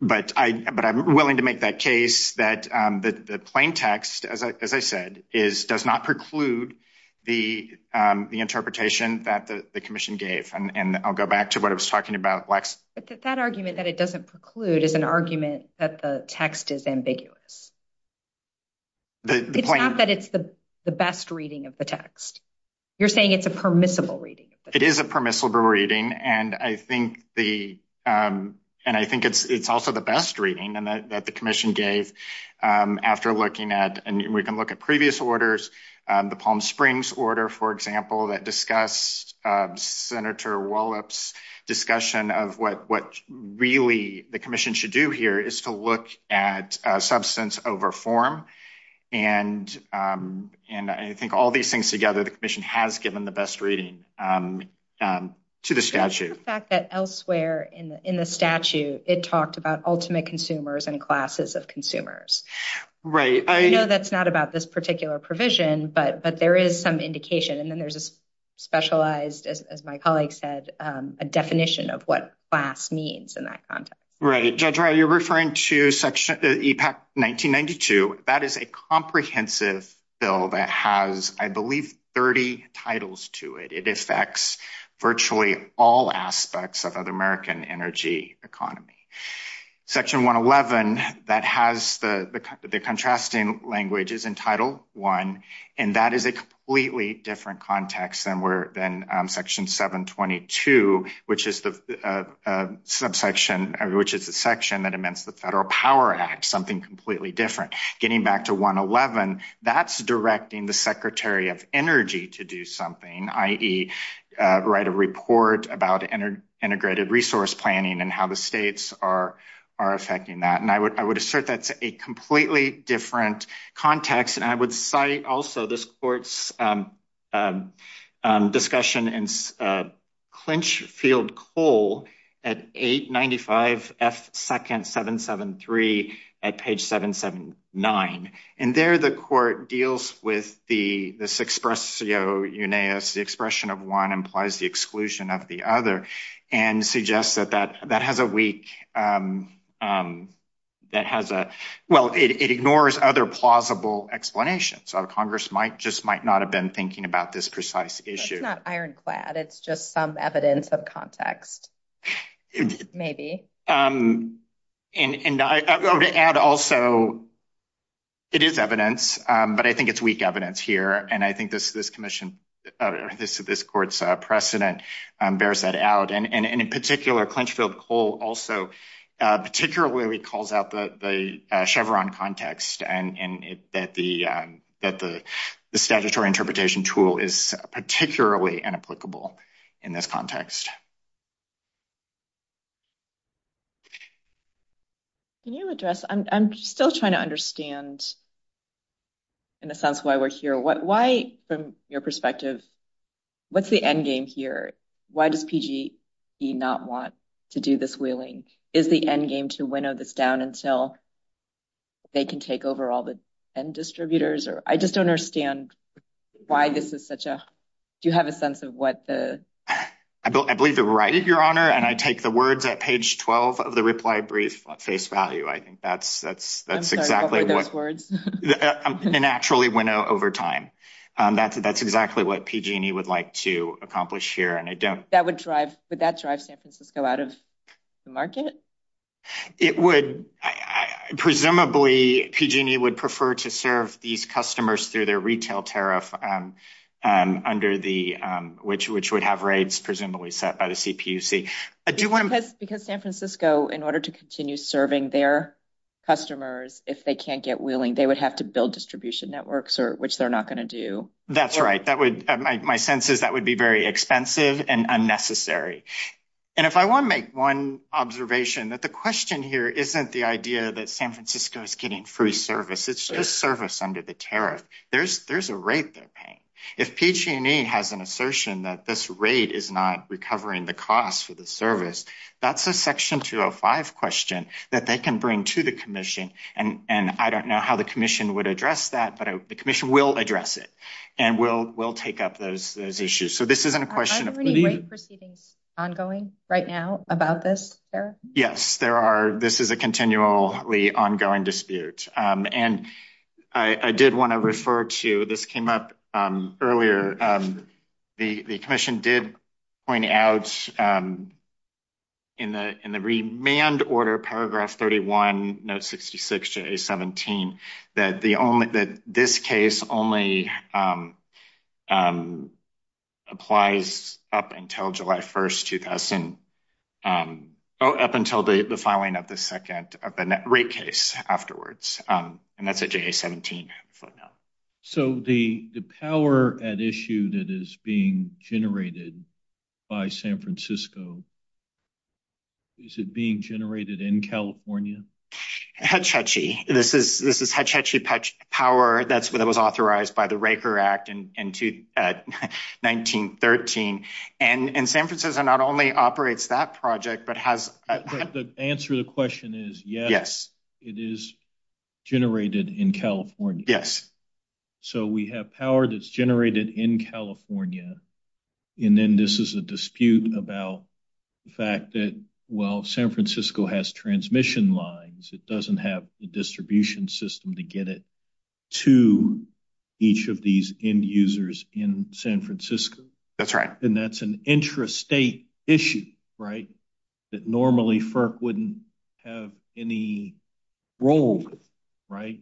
But I'm willing to make that case that the plain text, as I said, does not preclude the interpretation that the commission gave. And I'll go back to what I was talking about, Lex. But that argument that it doesn't preclude is an argument that the text is ambiguous. It's not that it's the best reading of the text. You're saying it's a permissible reading. It is a permissible reading. And I think it's also the best reading that the commission gave after looking at... And we can look at previous orders. The Palm Springs order, for example, that discussed Senator Wallop's discussion of what really the commission should do here is to look at substance over form. And I think all these things together, the commission has given the best reading to the statute. The fact that elsewhere in the statute, it talked about ultimate consumers and classes of consumers. Right. I know that's not about this particular provision, but there is some indication. And then there's a specialized, as my colleague said, a definition of what class means in that context. Right. Gentile, you're referring to section, the EPAC 1992. That is a comprehensive bill that has, I believe, 30 titles to it. It affects virtually all aspects of the American energy economy. Section 111, that has the contrasting languages in title one, and that is a completely different context than section 722, which is the section that amends the Federal Power Act, something completely different. Getting back to 111, that's directing the Secretary of Energy to do something, i.e. write a report about integrated resource planning and how the states are affecting that. And I would assert that's a completely different context. And I would cite also this court's discussion in Clinchfield Cole at 895F2nd773 at page 779. And there, the court deals with this expressio unaeus, the expression of one implies the exclusion of the other, and suggests that that has a weak, that has a, well, it ignores other plausible explanations. Congress just might not have been thinking about this precise issue. It's not ironclad. It's just some evidence of context, maybe. And I would add also, it is evidence, but I think it's weak evidence here. And I think this commission, this court's precedent bears that out. And in particular, Clinchfield Cole also particularly calls out the Chevron context and that the statutory interpretation tool is particularly inapplicable in this context. Can you address, I'm still trying to understand, in a sense, why we're here. Why, from your end game, to winnow this down until they can take over all the end distributors? Or I just don't understand why this is such a, do you have a sense of what the... I believe you're right, Your Honor. And I take the words at page 12 of the reply brief at face value. I think that's exactly what... I'm sorry, what were those words? And actually winnow over time. That's exactly what PG&E would like to accomplish here. That would drive, would that drive San Francisco out of the market? It would, presumably PG&E would prefer to serve these customers through their retail tariff under the, which would have rates presumably set by the CPUC. Because San Francisco, in order to continue serving their customers, if they can't get willing, they would have to build distribution networks, which they're not going to do. That's right. My sense is that would be very expensive and unnecessary. And if I want to make one observation, that the question here isn't the idea that San Francisco is getting free service, it's just service under the tariff. There's a rate they're paying. If PG&E has an assertion that this rate is not recovering the cost for the service, that's a section 305 question that they can bring to the commission. And I don't know how the commission would address it. And we'll take up those issues. So this isn't a question of... Are any rate proceedings ongoing right now about this, sir? Yes, there are. This is a continually ongoing dispute. And I did want to refer to, this came up earlier, the commission did point out in the remand order, paragraph 31, note 66, J17, that this case only applies up until the filing of the second rate case afterwards. And that's a J17. So the power at issue that is being generated by San Francisco, is it being generated in California? Hetch Hetchy. This is Hetch Hetchy power. That's what was authorized by the Raker Act in 1913. And San Francisco not only operates that project, but has... The answer to the question is, yes, it is generated in California. Yes. So we have power that's generated in California. And then this is a dispute about the fact that, well, San Francisco has transmission lines. It doesn't have the distribution system to get it to each of these end users in San Francisco. That's right. And that's an interest state issue, right? That normally FERC wouldn't have any role, right?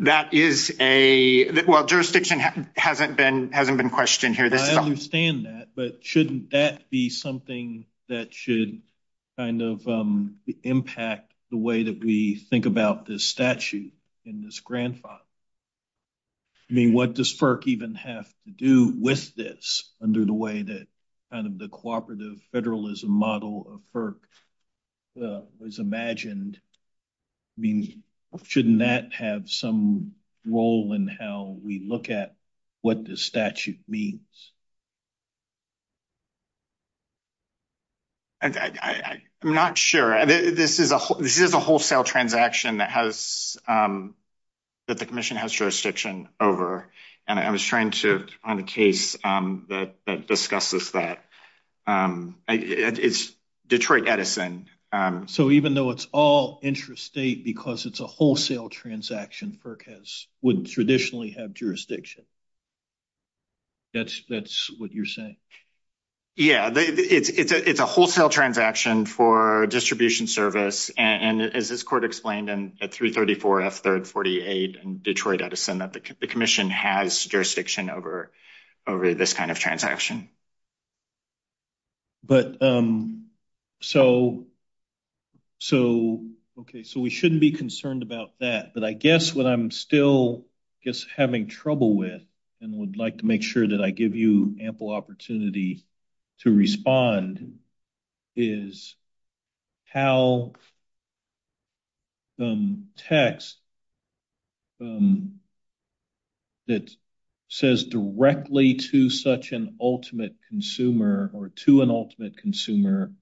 That is a... Well, jurisdiction hasn't been questioned here. I understand that, but shouldn't that be something that should kind of impact the way that we think about this statute in this grandfather? I mean, what does FERC even have to do with this under the way that kind of the cooperative federalism model of FERC was imagined? I mean, shouldn't that have some role in how we look at what this statute means? I'm not sure. This is a wholesale transaction that the commission has jurisdiction over. And I was trying to... On a case that discusses that. It's Detroit Edison. So even though it's all interest state because it's a wholesale transaction, wouldn't traditionally have jurisdiction. That's what you're saying. Yeah. It's a wholesale transaction for distribution service. And as this court explained, and at 334 F-38 and Detroit Edison, the commission has jurisdiction over this kind of transaction. Okay. So we shouldn't be concerned about that. But I guess what I'm still, I guess, having trouble with and would like to make sure that I give you ample opportunity to respond is how the text that says directly to such an ultimate consumer or to an ultimate consumer,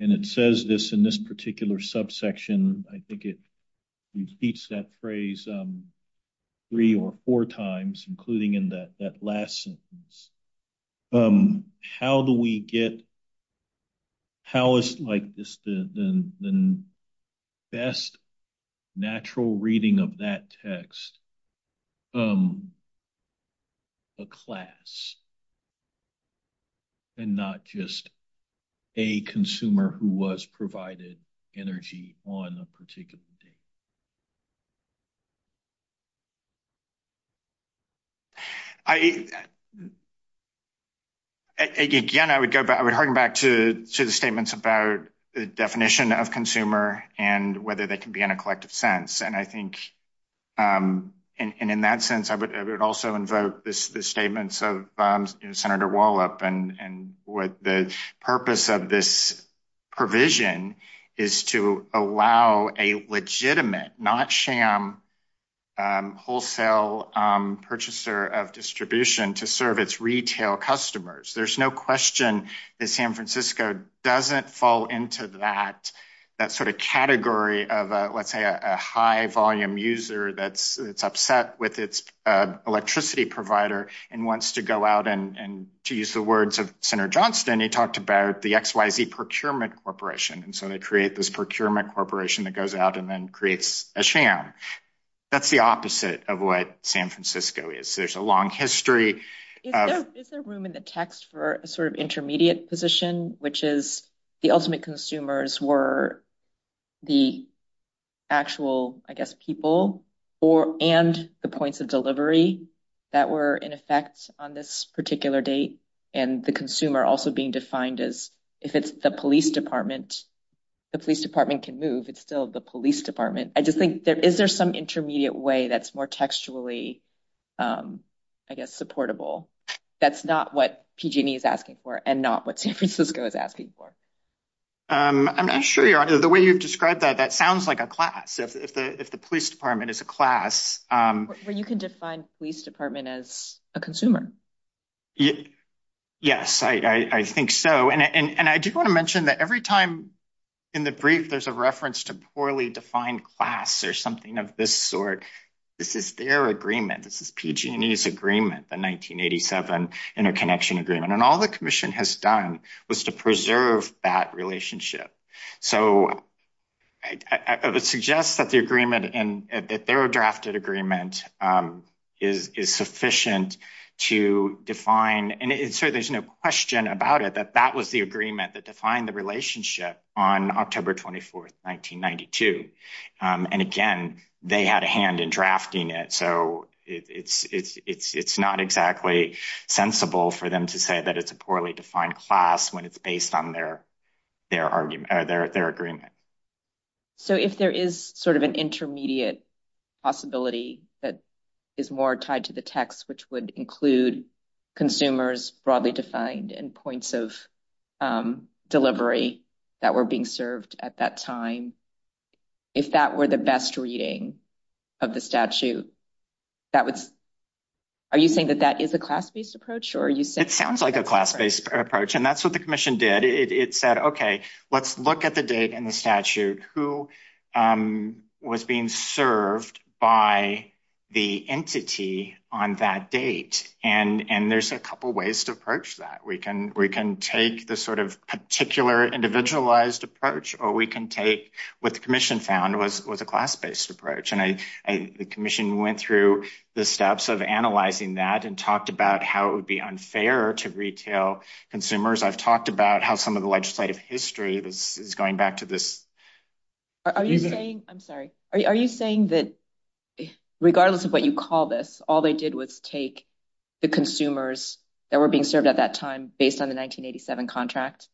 and it says this in this particular subsection, I think it repeats that phrase three or four times, including in that last sentence. How do we get... How is the best natural reading of that text a class and not just a consumer who was provided energy on a particular day? I, again, I would go back to the statements about the definition of consumer and whether they can be in a collective sense. And I think, and in that sense, I would also invoke the statements of Senator Wallop and what the purpose of this provision is to allow a legitimate, not sham, wholesale purchaser of distribution to serve its retail customers. There's no question that San Francisco doesn't fall into that sort of category of, let's say, a high volume user that's upset with its electricity provider and wants to go out and to use the words of Senator Johnston, he talked about the XYZ procurement corporation. And so they create this procurement corporation that goes out and then creates a sham. That's the opposite of what San Francisco is. There's a long history of... Is there room in the text for a sort of intermediate position, which is the ultimate consumers were the actual, I guess, people and the points of delivery that were in effect on this particular date. And the consumer also being defined as if it's the police department, the police department can move. It's still the police department. I just think there is there some intermediate way that's more textually, I guess, supportable. That's not what PG&E is asking for and not what San Francisco is asking for. I'm not sure the way you've described that, that sounds like a class. If the police department is a class... But you can define police department as a consumer. Yes, I think so. And I do want to mention that every time in the brief, there's a reference to poorly defined class or something of this sort. This is their agreement. This is PG&E's agreement, the 1987 interconnection agreement. And all the commission has done was to preserve that relationship. So I would suggest that the agreement and their drafted agreement is sufficient to define. And so there's no question about it that that was the agreement that defined the relationship on October 24th, 1992. And again, they had a hand in drafting it. So it's not exactly sensible for them to say that it's a poorly defined class when it's based on their argument or their agreement. So if there is sort of an intermediate possibility that is more tied to the text, which would include consumers broadly defined and points of delivery that were being served at that time, if that were the best reading of the statute, are you saying that that is a class based approach? It sounds like a class based approach. And that's what the commission did. It said, OK, let's look at the date and the statute who was being served by the entity on that date. And there's a couple of ways to approach that. We can take the sort of particular individualized approach or we can take what the commission found was a class based approach. And the commission went through the steps of analyzing that and talked about how it would be unfair to the legislative history that is going back to this. Are you saying that regardless of what you call this, all they did was take the consumers that were being served at that time based on the 1987 contract?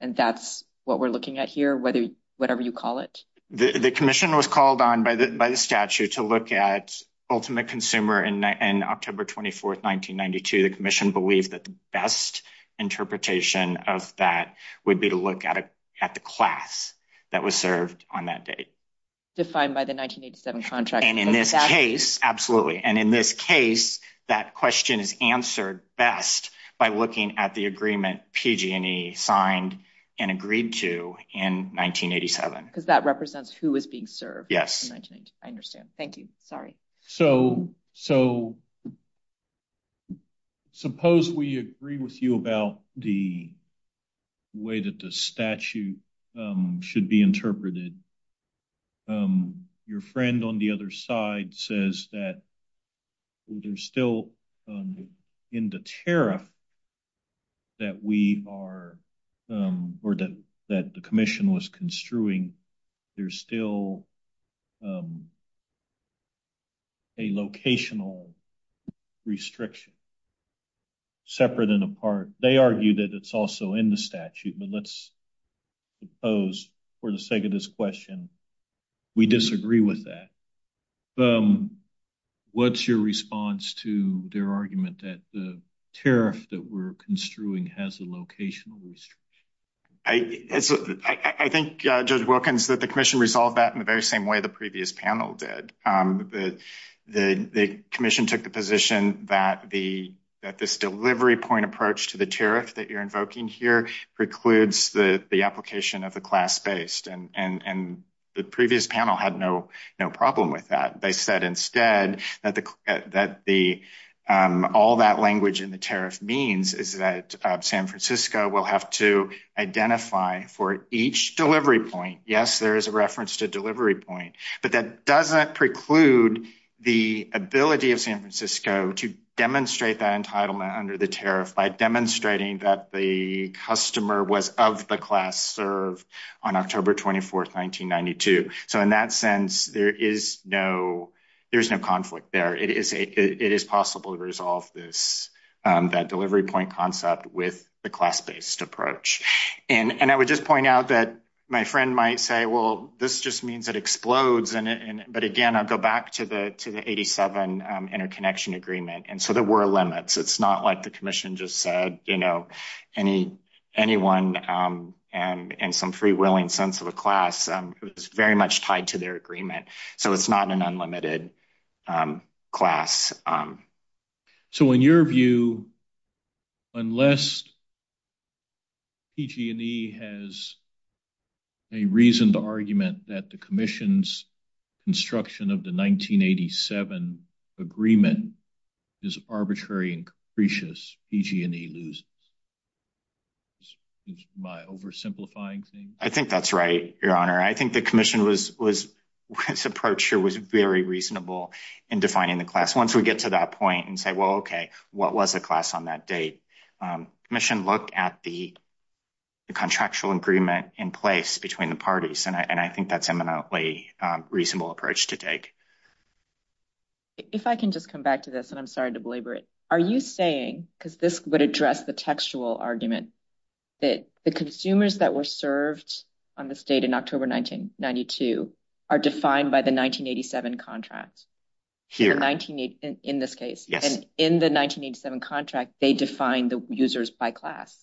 And that's what we're looking at here, whether whatever you call it. The commission was called on by the statute to look at ultimate consumer in October 24th, the commission believed that the best interpretation of that would be to look at the class that was served on that date. Defined by the 1987 contract. And in this case, absolutely. And in this case, that question is answered best by looking at the agreement PG&E signed and agreed to in 1987. Because that represents who was being served. Yes. I understand. Thank you. So, suppose we agree with you about the way that the statute should be interpreted. Your friend on the other side says that there's still in the terror that we are or that the commission was construing, there's still a locational restriction. Separate and apart. They argue that it's also in the statute, but let's suppose for the sake of this question, we disagree with that. What's your response to their argument that the tariff that we're construing has a locational restriction? I think, Judge Wilkins, that the commission resolved that in the very same way previous panel did. The commission took the position that this delivery point approach to the tariff that you're invoking here precludes the application of the class-based. And the previous panel had no problem with that. They said instead that all that language in the tariff means is that San Francisco will have to identify for each delivery point, yes, there is a reference to delivery point, but that doesn't preclude the ability of San Francisco to demonstrate that entitlement under the tariff by demonstrating that the customer was of the class served on October 24th, 1992. So, in that sense, there is no conflict there. It is possible to resolve that delivery point concept with the class-based approach. And I would just point out that my means it explodes. But again, I go back to the 87 interconnection agreement. And so, there were limits. It's not like the commission just said, you know, anyone and some free-wheeling sense of a class is very much tied to their agreement. So, it's not an unlimited class. So, in your view, unless PG&E has a reason to argument that the commission's construction of the 1987 agreement is arbitrary and capricious, PG&E loses. Am I oversimplifying things? I think that's right, Your Honor. I think the commission was approach here was very reasonable in defining the class. Once we get to that point and say, well, okay, what was the class on that date? Commission looked at the contractual agreement in place between the parties. And I think that's eminently reasonable approach to take. If I can just come back to this, and I'm sorry to belabor it. Are you saying, because this would address the textual argument, that the consumers that were served on the state in October 1992 are defined by the 1987 contracts? Here. In this case. And in the 1987 contract, they define the users by class?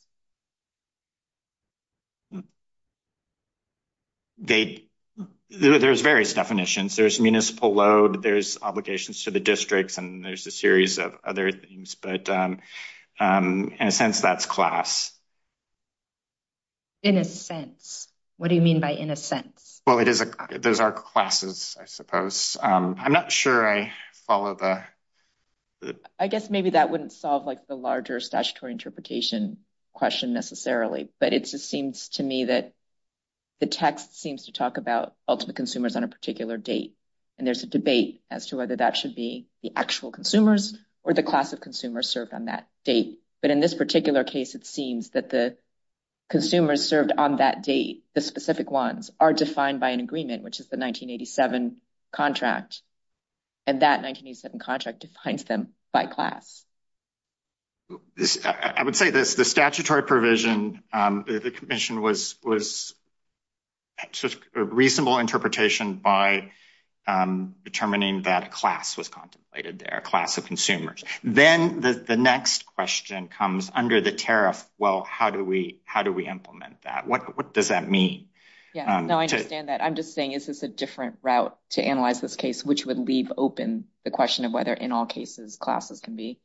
There's various definitions. There's municipal load. There's obligations to the districts. And there's a series of other things. But in a sense, that's class. In a sense? What do you mean by in a sense? Well, it is. There's our classes, I suppose. I'm not sure I follow that. I guess maybe that wouldn't solve like the larger statutory interpretation question necessarily. But it just seems to me that the text seems to talk about ultimate consumers on a particular date. And there's a debate as to whether that should be the actual consumers or the class of consumers served on that date. But in this particular case, it seems that the consumers served on that date, the specific ones, are defined by an agreement, which is the 1987 contract. And that 1987 contract defines them by class. I would say this, the statutory provision, the commission was a reasonable interpretation by determining that class was contemplated there, class of consumers. Then the next question comes under the tariff. Well, how do we implement that? What does that mean? Yeah, no, I understand that. I'm just saying this is a different route to analyze this case, which would leave open the question of whether in all cases classes can be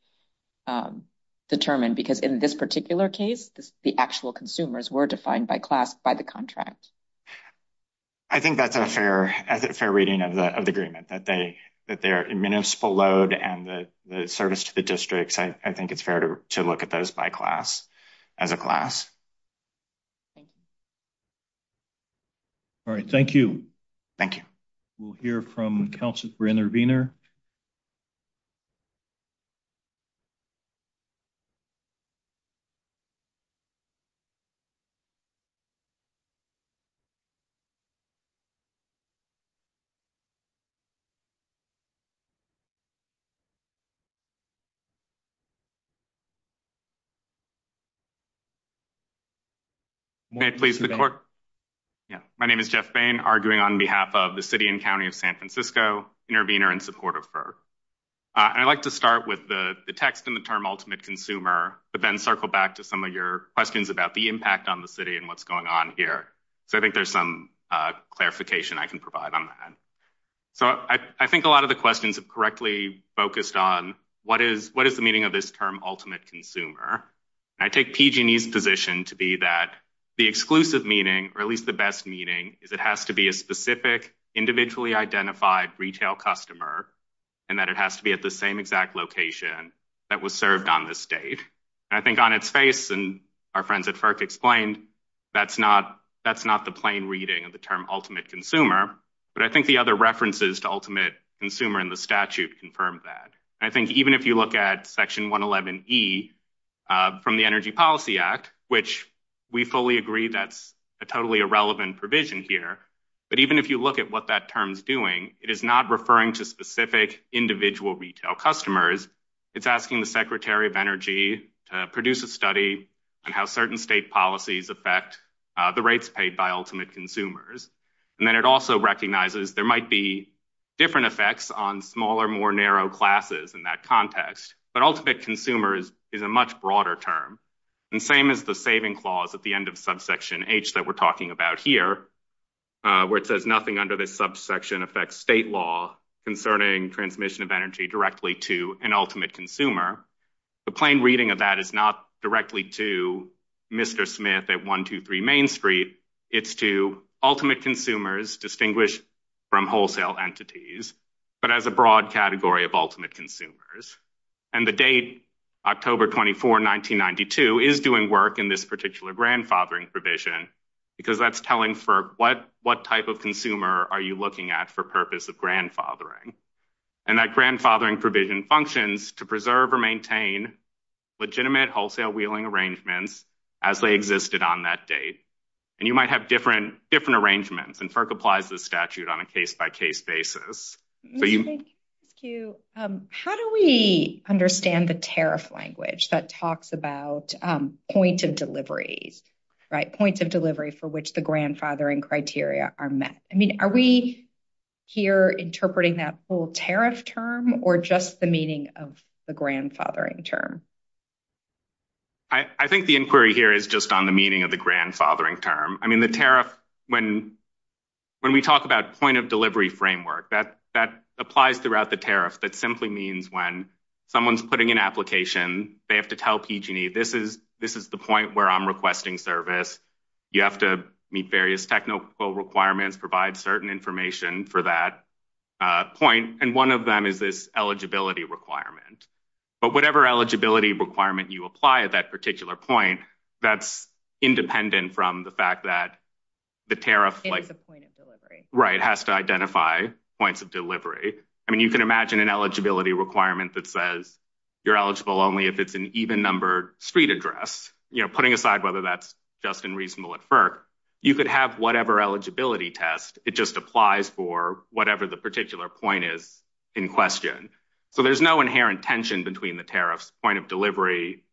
determined. Because in this particular case, the actual consumers were defined by class, by the contract. I think that's a fair reading of the agreement, that they're in municipal load and the service to the district. I think it's fair to look at those by class, as a class. All right, thank you. Thank you. We'll hear from Councilor Brander-Wiener. May I please? My name is Jeff Bain, arguing on behalf of the City and County of San Francisco, intervener in support of FERC. I'd like to start with the text and the term ultimate consumer, but then circle back to some of your questions about the impact on the city and what's going on here. So I think there's some clarification I can provide on that. So I think a lot of the meaning of this term ultimate consumer, I take PG&E's position to be that the exclusive meaning, or at least the best meaning, is it has to be a specific, individually identified retail customer, and that it has to be at the same exact location that was served on this date. I think on its face and our friends at FERC explained, that's not the plain reading of the term ultimate consumer, but I think the other references to ultimate consumer in the statute confirm that. I think even if you look at section 111E from the Energy Policy Act, which we fully agree that's a totally irrelevant provision here, but even if you look at what that term's doing, it is not referring to specific individual retail customers. It's asking the Secretary of Energy to produce a study on how certain state policies affect the rates paid by ultimate consumers. And then it also recognizes there might be different effects on smaller, more narrow classes in that context, but ultimate consumers is a much broader term. And same as the saving clause at the end of subsection H that we're talking about here, where it says nothing under this subsection affects state law concerning transmission of energy directly to an ultimate consumer. The plain reading of that is not directly to Mr. Smith at 123 Main Street. It's to ultimate consumers distinguished from wholesale entities, but as a broad category of ultimate consumers. And the date, October 24, 1992, is doing work in this particular grandfathering provision because that's telling FERC, what type of consumer are you looking at for purpose of grandfathering? And that grandfathering provision functions to preserve or maintain legitimate wholesale wheeling arrangements as they existed on that date. And you might have different arrangements, and FERC applies this statute on a case-by-case basis. How do we understand the tariff language that talks about points of delivery, right, points of delivery for which the grandfathering criteria are met? I mean, are we here interpreting that full tariff term or just the meaning of the grandfathering term? I think the inquiry here is just on the meaning of the grandfathering term. I mean, the tariff, when we talk about point of delivery framework, that applies throughout the tariff. That simply means when someone's putting an application, they have to tell PG&E, this is the point where I'm requesting service. You have to meet various technical requirements, provide certain information for that point, and one of them is this eligibility requirement. But whatever eligibility requirement you apply at that particular point, that's independent from the fact that the tariff, right, has to identify points of delivery. I mean, you can imagine an eligibility requirement that says you're eligible only if it's an even-numbered street address. You know, putting aside whether that's just and reasonable at FERC, you could have whatever eligibility test. It just applies for whatever the particular point is in question. So, there's no inherent tension between the tariff's point of delivery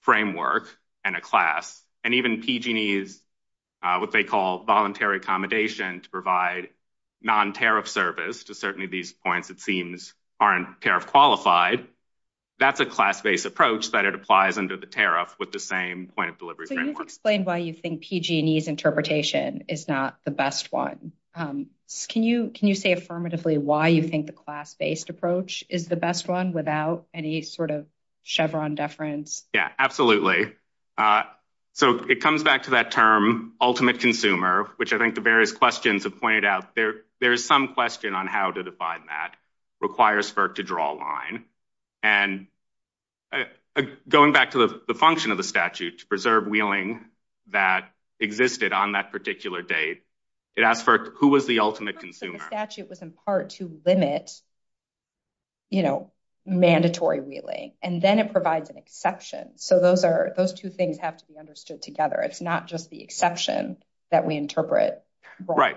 framework and a class. And even PG&E's, what they call voluntary accommodation to provide non-tariff service to certainly these points, it seems, aren't tariff qualified. That's a class-based approach that it applies under the tariff with the same point of delivery framework. Can you explain why you think PG&E's not the best one? Can you say affirmatively why you think the class-based approach is the best one without any sort of Chevron deference? Yeah, absolutely. So, it comes back to that term ultimate consumer, which I think the various questions have pointed out. There's some question on how to define that. It requires FERC to draw a line. And going back to the function of statute to preserve wheeling that existed on that particular date, it asks FERC, who was the ultimate consumer? The statute was in part to limit, you know, mandatory wheeling. And then it provides an exception. So, those two things have to be understood together. It's not just the exception that we interpret. Right.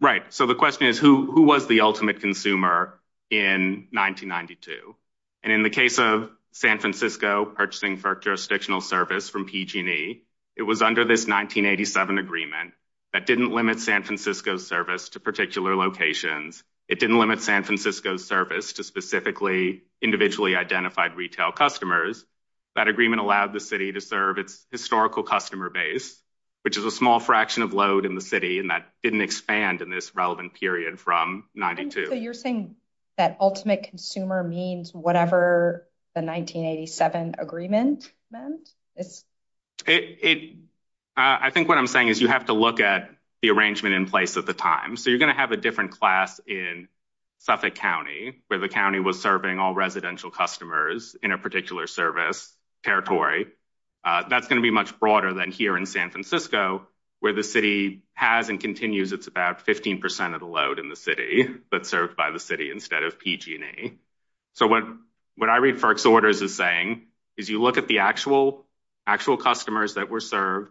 Right. So, the question is, who was the ultimate consumer in 1992? And in the case of San Francisco purchasing for jurisdictional service from PG&E, it was under this 1987 agreement that didn't limit San Francisco's service to particular locations. It didn't limit San Francisco's service to specifically individually identified retail customers. That agreement allowed the city to serve its historical customer base, which is a small fraction of load in the city, and that didn't expand in this relevant period from 1992. So, you're saying that ultimate consumer means whatever the 1987 agreement meant? I think what I'm saying is you have to look at the arrangement in place at the time. So, you're going to have a different class in Suffolk County, where the county was serving all residential customers in a particular service territory. That's going to be much broader than here in San Francisco, where the city has and continues, it's about 15% of the load in the city, but served by the city instead of PG&E. So, what I refer to orders as saying, is you look at the actual customers that were served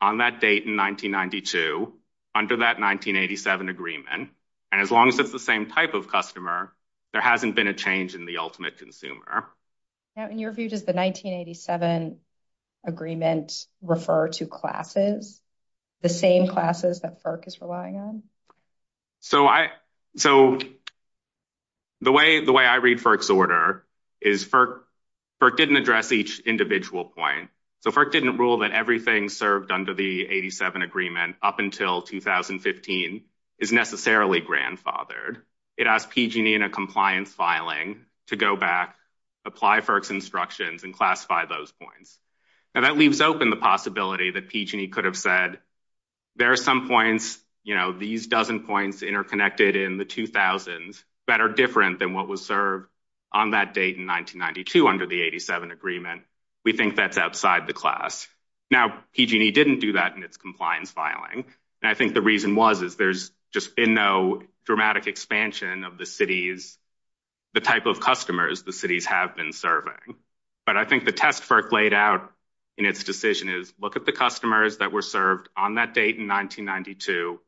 on that date in 1992 under that 1987 agreement, and as long as it's the same type of customer, there hasn't been a change in the order to classes, the same classes that FERC is relying on? So, the way I read FERC's order is FERC didn't address each individual point. So, FERC didn't rule that everything served under the 87 agreement up until 2015 is necessarily grandfathered. It asked PG&E in a compliance filing to go back, apply FERC's instructions, and classify those points. And that leaves open the possibility that PG&E could have said, there are some points, you know, these dozen points interconnected in the 2000s that are different than what was served on that date in 1992 under the 87 agreement. We think that's outside the class. Now, PG&E didn't do that in its compliance filing, and I think the reason was, is there's just been no dramatic expansion of the cities, the type of customers the cities have been serving. But I think the test FERC laid out in its decision is, look at the customers that were served on that date in 1992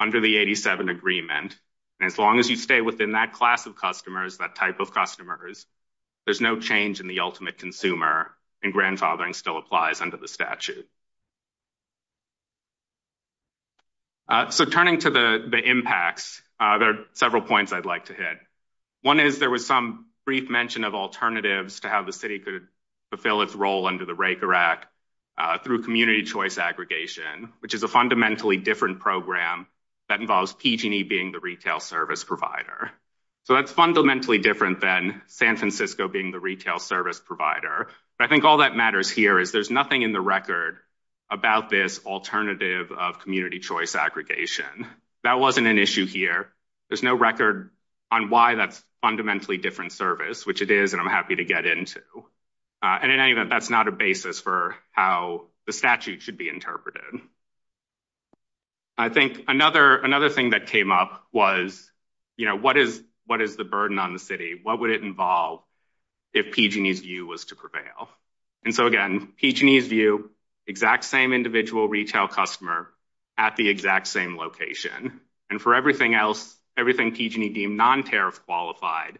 under the 87 agreement, and as long as you stay within that class of customers, that type of customers, there's no change in the ultimate consumer, and grandfathering still applies under the statute. So, turning to the impacts, there are several points I'd like to hit. One is there was some mention of alternatives to how the city could fulfill its role under the Raker Act through community choice aggregation, which is a fundamentally different program that involves PG&E being the retail service provider. So, that's fundamentally different than San Francisco being the retail service provider. I think all that matters here is there's nothing in the record about this alternative of community choice aggregation. That wasn't an issue here. There's no record on why that's fundamentally different service, which it is, and I'm happy to get into. In any event, that's not a basis for how the statute should be interpreted. I think another thing that came up was, you know, what is the burden on the city? What would it involve if PG&E's view was to prevail? And so, again, PG&E's view, exact same individual retail customer at the exact same location. And for everything else, everything PG&E deemed non-tariff qualified,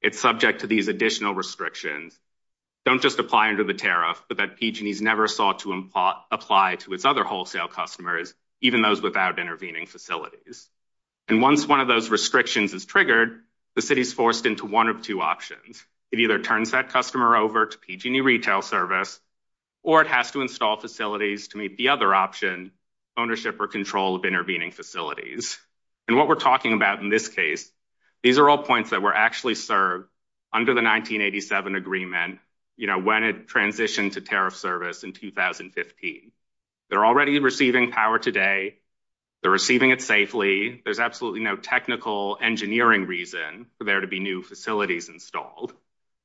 it's subject to these additional restrictions. Don't just apply under the tariff, but that PG&E's never sought to apply to its other wholesale customers, even those without intervening facilities. And once one of those restrictions is triggered, the city's forced into one of two options. It either turns that customer over to PG&E Retail Service, or it has to install facilities to meet the other option, ownership or control of intervening facilities. And what we're talking about in this case, these are all points that were actually served under the 1987 agreement, you know, when it transitioned to tariff service in 2015. They're already receiving power today. They're receiving it safely. There's absolutely no technical engineering reason for there to be facilities installed.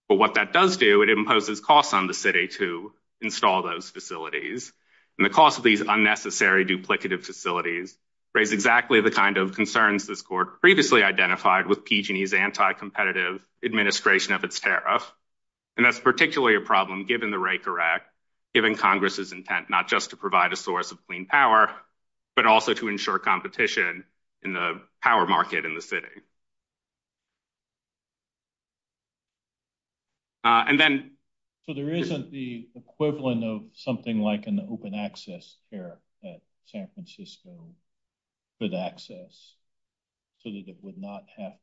But what that does do, it imposes costs on the city to install those facilities. And the cost of these unnecessary duplicative facilities raise exactly the kind of concerns this court previously identified with PG&E's anti-competitive administration of its tariff. And that's particularly a problem given the Raker Act, given Congress's intent not just to provide a source of clean power, but also to ensure competition in the power market in the city. So there isn't the equivalent of something like an open access tariff at San Francisco with access so that it would not have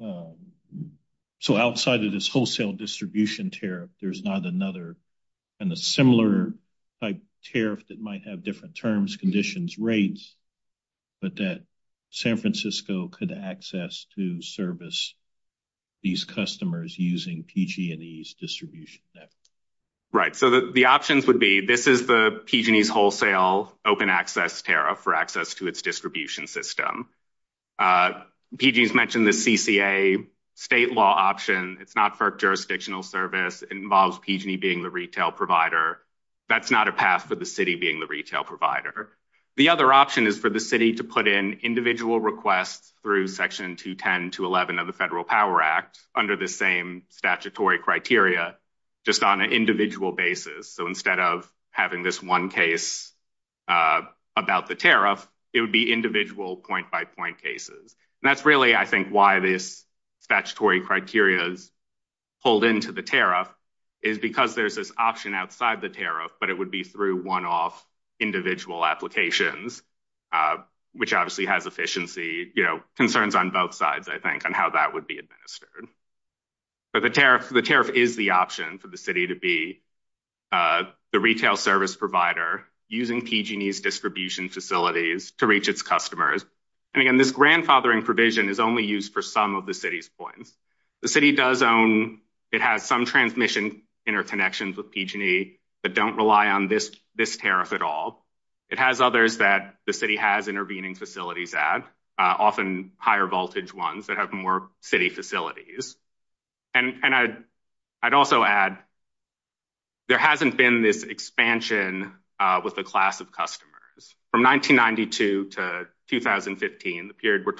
to... So outside of this wholesale distribution tariff, there's not another and a similar type tariff that might have different terms, conditions, rates, but that San Francisco could access to service these customers using PG&E's distribution. Right. So the options would be, this is the PG&E's wholesale open access tariff for access to its distribution system. PG&E's mentioned the CCA state law option. It's not for jurisdictional service. It involves PG&E being the retail provider. That's not a pass to the city being the retail provider. The other option is for the city to put in individual requests through section 210 to 11 of the Federal Power Act under the same statutory criteria, just on an individual basis. So instead of having this one case about the tariff, it would be individual point by point cases. And that's really, I think, why this statutory criteria is pulled into the tariff is because there's this option outside the tariff, but it would be through one-off individual applications, which obviously has efficiency, concerns on both sides, I think, on how that would be administered. But the tariff is the option for the city to be the retail service provider using PG&E's distribution facilities to reach its customers. And again, this grandfathering provision is only used for some of the city's points. The city does own, it has some transmission interconnections with PG&E that don't rely on this tariff at all. It has others that the city has intervening facilities at, often higher voltage ones that have more city facilities. And I'd also add, there hasn't been this expansion with the class of customers. From 1992 to 2015, the period we're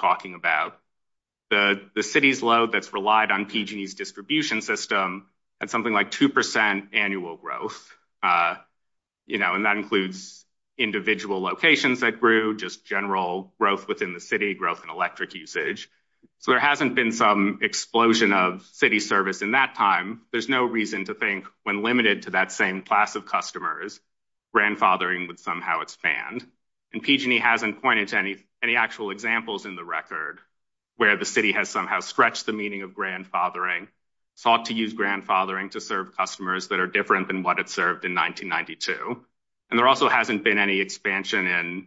relied on PG&E's distribution system at something like 2% annual growth. And that includes individual locations that grew, just general growth within the city, growth in electric usage. So there hasn't been some explosion of city service in that time. There's no reason to think when limited to that same class of customers, grandfathering would somehow expand. And PG&E hasn't pointed to any actual examples in the record where the city has somehow stretched the meaning of grandfathering, sought to use grandfathering to serve customers that are different than what it served in 1992. And there also hasn't been any expansion and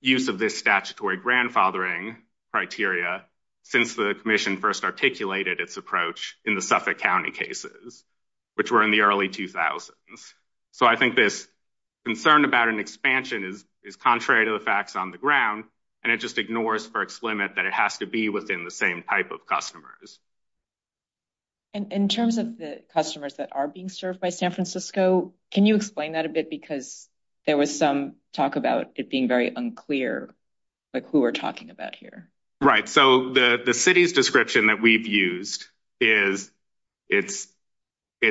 use of this statutory grandfathering criteria since the commission first articulated its approach in the Suffolk County cases, which were in the early 2000s. So I think this concern about an expansion is contrary to the facts on the ground, and it just ignores Burke's limit that it has to be within the same type of customers. And in terms of the customers that are being served by San Francisco, can you explain that a bit? Because there was some talk about it being very unclear, like who we're talking about here. Right. So the city's description that we've used is it's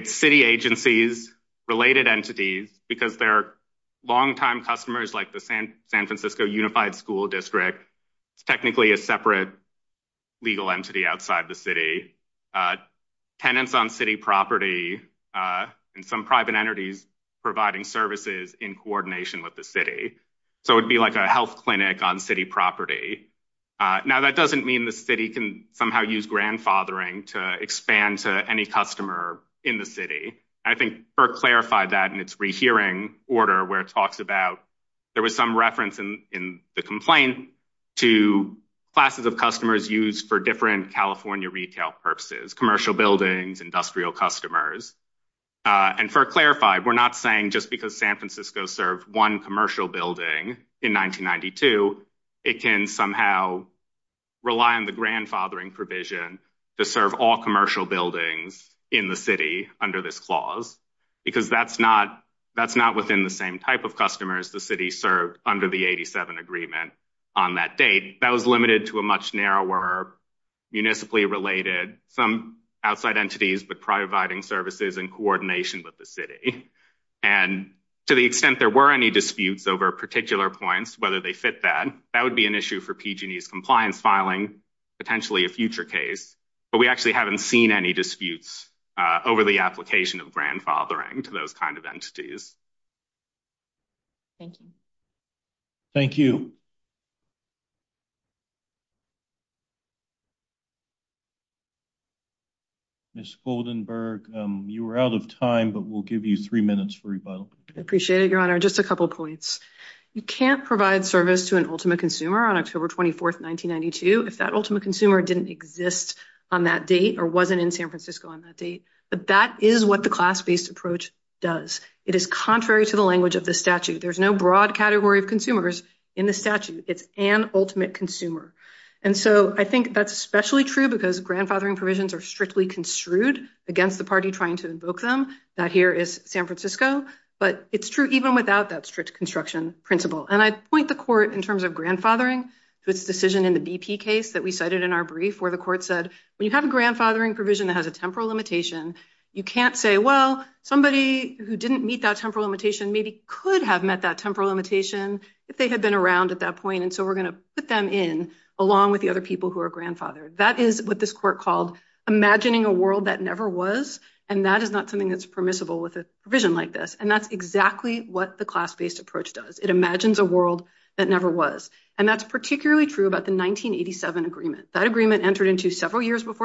city agencies, related entities, because they're long-time customers like the San Francisco Unified School District, technically a separate legal entity outside the city, tenants on city property, and some private entities providing services in coordination with the city. So it would be like a health clinic on city property. Now that doesn't mean the city can somehow use grandfathering to expand to any customer in the city. I think Burke clarified that in its rehearing order, where it talks about there was some reference in the complaint to classes of customers used for different California retail purposes, commercial buildings, industrial customers. And Burke clarified, we're not saying just because San Francisco served one commercial building in 1992, it can somehow rely on the grandfathering provision to serve all commercial buildings in the city under this clause. Because that's not within the same type of customers the city served under the 87 agreement on that date. That was limited to a much narrower, municipally related, some outside entities, but providing services in coordination with the city. And to the extent there were any disputes over particular points, whether they fit that, that would be an issue for PG&E's compliance filing, potentially a future case. But we actually haven't seen any disputes over the application of grandfathering to those kinds of entities. Thank you. Ms. Goldenberg, you were out of time, but we'll give you three minutes for rebuttal. Appreciate it, Your Honor. Just a couple of points. You can't provide service to an ultimate consumer on October 24th, 1992, if that ultimate consumer didn't exist on that date or wasn't in San Francisco on that date. But that is what the class-based approach does. It is contrary to the language of the statute. There's no broad category of consumers in the statute. It's an ultimate consumer. And so I think that's especially true because grandfathering provisions are strictly construed against the party trying to invoke them. That here is San Francisco, but it's true even without that strict construction principle. And I'd point the court in terms of grandfathering, this decision in the BP case that we cited in our brief where the court said, we have a grandfathering provision that has a temporal limitation. You can't say, well, somebody who didn't meet that temporal limitation maybe could have met that temporal limitation if they had been around at that point. And so we're going to put them in along with the other people who are grandfathered. That is what this court called imagining a world that never was. And that is not something that's permissible with a provision like this. And that's exactly what the class-based approach does. It imagines a world that never was. And that's several years before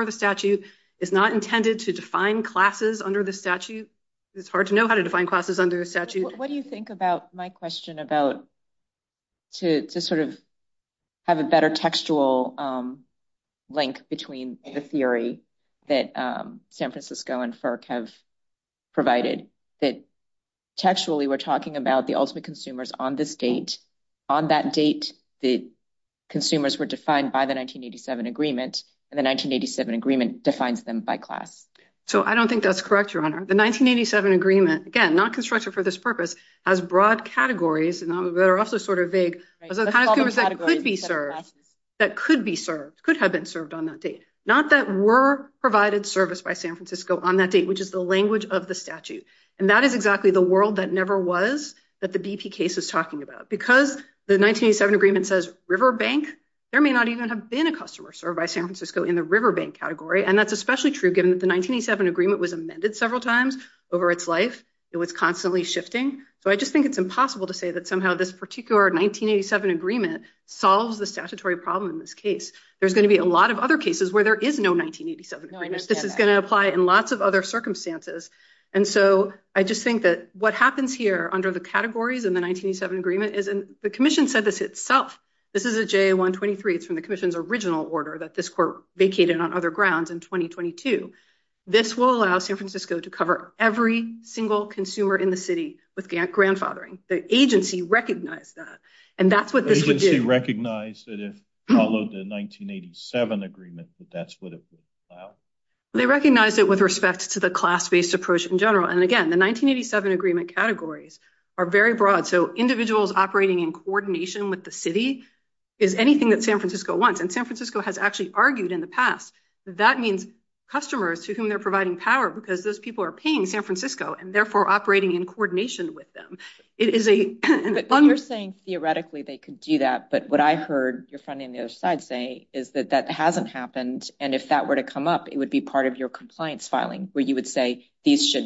the statute. It's not intended to define classes under the statute. It's hard to know how to define classes under the statute. What do you think about my question about to sort of have a better textual link between the theory that San Francisco and FERC have provided that textually we're talking about the ultimate consumers on this date, on that date that consumers were defined by the 1987 agreement, and the 1987 agreement defines them by class? So I don't think that's correct, Your Honor. The 1987 agreement, again, not constructed for this purpose, has broad categories, and they're also sort of vague, of the kind of people that could be served, that could be served, could have been served on that date. Not that were provided service by San Francisco on that date, which is the language of the statute. And that is exactly the world that never was that the BP case is talking about. Because the 1987 agreement says river bank. There may not even have been a customer served by San Francisco in the river bank category. And that's especially true given that the 1987 agreement was amended several times over its life. It was constantly shifting. So I just think it's impossible to say that somehow this particular 1987 agreement solves the statutory problem in this case. There's going to be a lot of other cases where there is no 1987 agreement. This is going to apply in lots of other circumstances. And so I just think that what happens here under the categories in the 1987 agreement is the commission said this itself. This is a JA-123. It's from the commission's original order that this court vacated on other grounds in 2022. This will allow San Francisco to cover every single consumer in the city with grandfathering. The agency recognized that. And that's what this would do. The agency recognized that it followed the 1987 agreement that that's what it would allow. They recognized it with respect to the class-based approach in general. And again, the 1987 agreement categories are very broad. So individuals operating in coordination with the city is anything that San Francisco wants. And San Francisco has actually argued in the past that that means customers to whom they're providing power because those people are paying San Francisco and therefore operating in coordination with them. It is a- But you're saying theoretically they could do that. But what I heard your friend on the other side say is that that hasn't happened. And if that were to come up, it would be part of your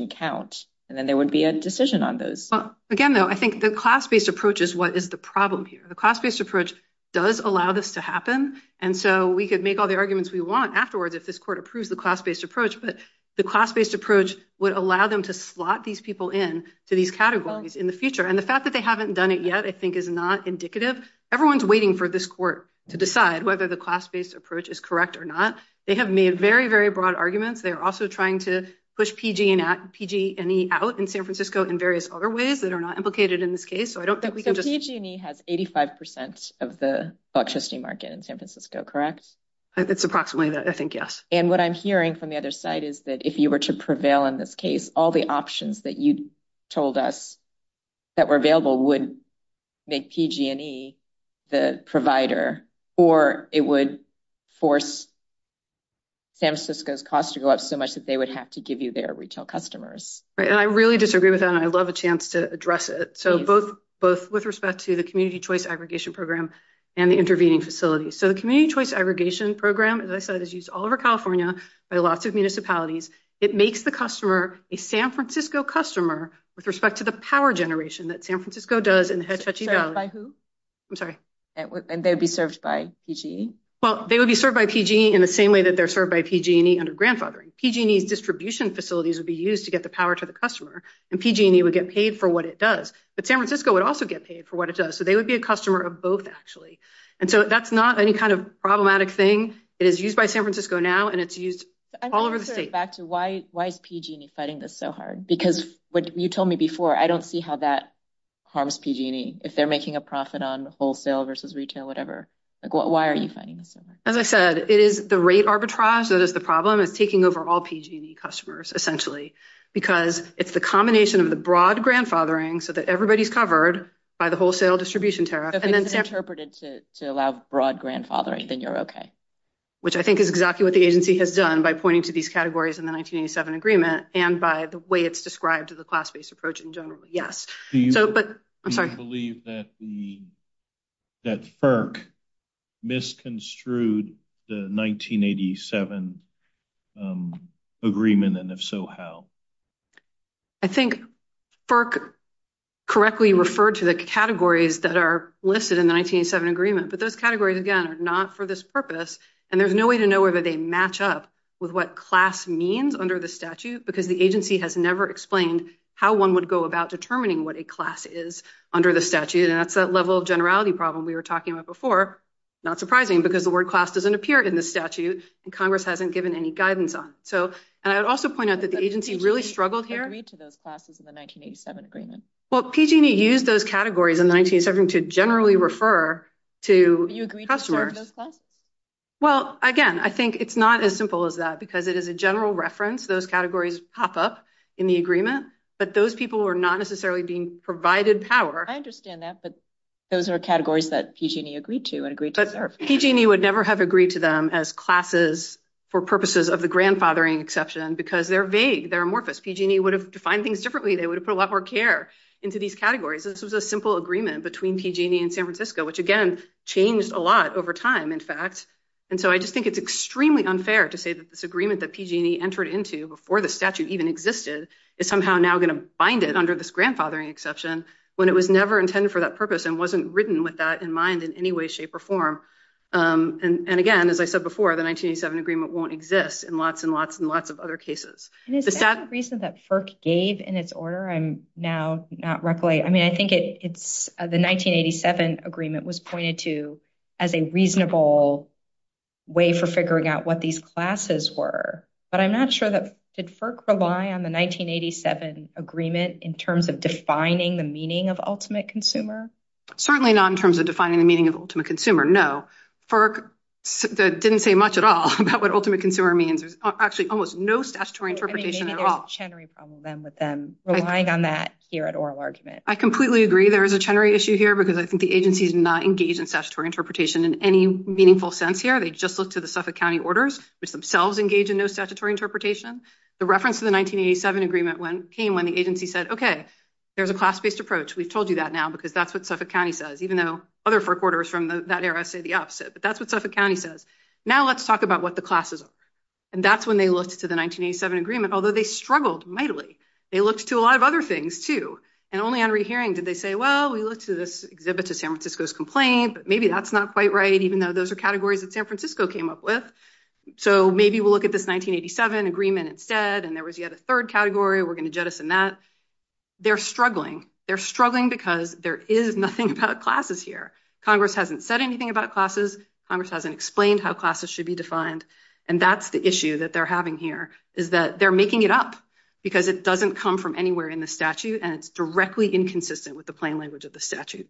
account. And then there would be a decision on those. Well, again, though, I think the class-based approach is what is the problem here. The class-based approach does allow this to happen. And so we could make all the arguments we want afterward if this court approves the class-based approach. But the class-based approach would allow them to slot these people in to these categories in the future. And the fact that they haven't done it yet, I think, is not indicative. Everyone's waiting for this court to decide whether the class-based approach is correct or not. They have made very, very broad arguments. They're also trying to push PG&E out in San Francisco in various other ways that are not implicated in this case. So I don't think we can just- But PG&E has 85 percent of the electricity market in San Francisco, correct? It's approximately that, I think, yes. And what I'm hearing from the other side is that if you were to prevail in this case, all the options that you told us that were available would make PG&E the provider, or it would force San Francisco's cost to go up so much that they would have to give you their retail customers. Right. And I really disagree with that, and I'd love a chance to address it. So both with respect to the Community Choice Aggregation Program and the intervening facilities. So the Community Choice Aggregation Program, as I said, is used all over California by lots of municipalities. It makes the customer a San Francisco customer with respect to the power generation that San Francisco does in Hetch Hetchy Valley. Served by who? I'm sorry. And they'd be served by PG&E? Well, they would be served by PG&E in the same way that they're served by PG&E under grandfathering. PG&E's distribution facilities would be used to get the power to the customer, and PG&E would get paid for what it does. But San Francisco would also get paid for what it does. So they would be a customer of both, actually. And so that's not any kind of problematic thing. It is used by San Francisco now, and it's used all over the state. I'm just going to go back to why is PG&E fighting this so hard? Because what you told me before, I don't see how that harms PG&E. If they're making a profit on wholesale versus retail, whatever. Why are you fighting this? As I said, it is the rate arbitrage that is the problem. It's taking over all PG&E customers, essentially, because it's the combination of the broad grandfathering so that everybody's covered by the wholesale distribution tariff. And then it's interpreted to allow broad grandfathering, then you're okay. Which I think is exactly what the agency has done by pointing to these categories in the 1987 agreement and by the way it's described as a class-based approach in general. Yes. Do you believe that FERC misconstrued the 1987 agreement, and if so, how? I think FERC correctly referred to the categories that are listed in the 1987 agreement. But those categories, again, are not for this purpose. And there's no way to know whether they match up with what class means under the statute, because the agency has never explained how one would go about determining what a class is under the statute. And that's that level of generality problem we were talking about before. Not surprising, because the word class doesn't appear in the statute, and Congress hasn't given any guidance on it. So, and I would also point out that the agency really struggled here. Did PG&E agree to those classes in the 1987 agreement? Well, PG&E used those categories in 1987 to generally refer to customers. Do you agree to those classes? Well, again, I think it's not as simple as that, because it is a general reference. Those categories pop up in the agreement, but those people were not necessarily being provided power. I understand that, but those are categories that PG&E agreed to. But PG&E would never have agreed to them as classes for purposes of the grandfathering exception, because they're vague. They're amorphous. PG&E would have defined things differently. They would have put a lot more care into these categories. This was a simple agreement between PG&E and San Francisco, which, again, changed a lot over time, in fact. And so, I just think it's extremely unfair to say that this agreement that PG&E entered into before the statute even existed is somehow now going to bind it under this grandfathering exception when it was never intended for that purpose and wasn't written with that in mind in any way, shape, or form. And again, as I said before, the 1987 agreement won't exist in lots and lots and lots of other cases. Is that the reason that FERC gave in its order? I'm now not recollecting. I mean, I think it's the 1987 agreement was pointed to as a reasonable way for figuring out what these classes were. But I'm not sure that, did FERC rely on the 1987 agreement in terms of defining the meaning of ultimate consumer? Certainly not in terms of defining the meaning of ultimate consumer, no. FERC didn't say much at all about what ultimate consumer means. There's actually almost no statutory interpretation at all. They may have had a Chenery problem then with them relying on that here at oral argument. I completely agree there is a Chenery issue here, because I think the agency is not engaged in statutory interpretation in any meaningful sense here. They've just looked to the Suffolk County orders, which themselves engage in no statutory interpretation. The reference to the 1987 agreement came when the agency said, okay, there's a class-based approach. We've told you that now because that's what Suffolk County says, even though other FERC orders from that era say the opposite. But that's what Suffolk County says. Now let's talk about what the classes are. And that's when they looked to the 1987 agreement, although they struggled mightily. They looked to a lot of other things too. And only on exhibit to San Francisco's complaint, but maybe that's not quite right, even though those are categories that San Francisco came up with. So maybe we'll look at this 1987 agreement instead, and there was yet a third category. We're going to jettison that. They're struggling. They're struggling because there is nothing about classes here. Congress hasn't said anything about classes. Congress hasn't explained how classes should be defined. And that's the issue that they're having here is that they're making it up because it doesn't come from anywhere in the statute, and it's directly inconsistent with the plain language of the statute.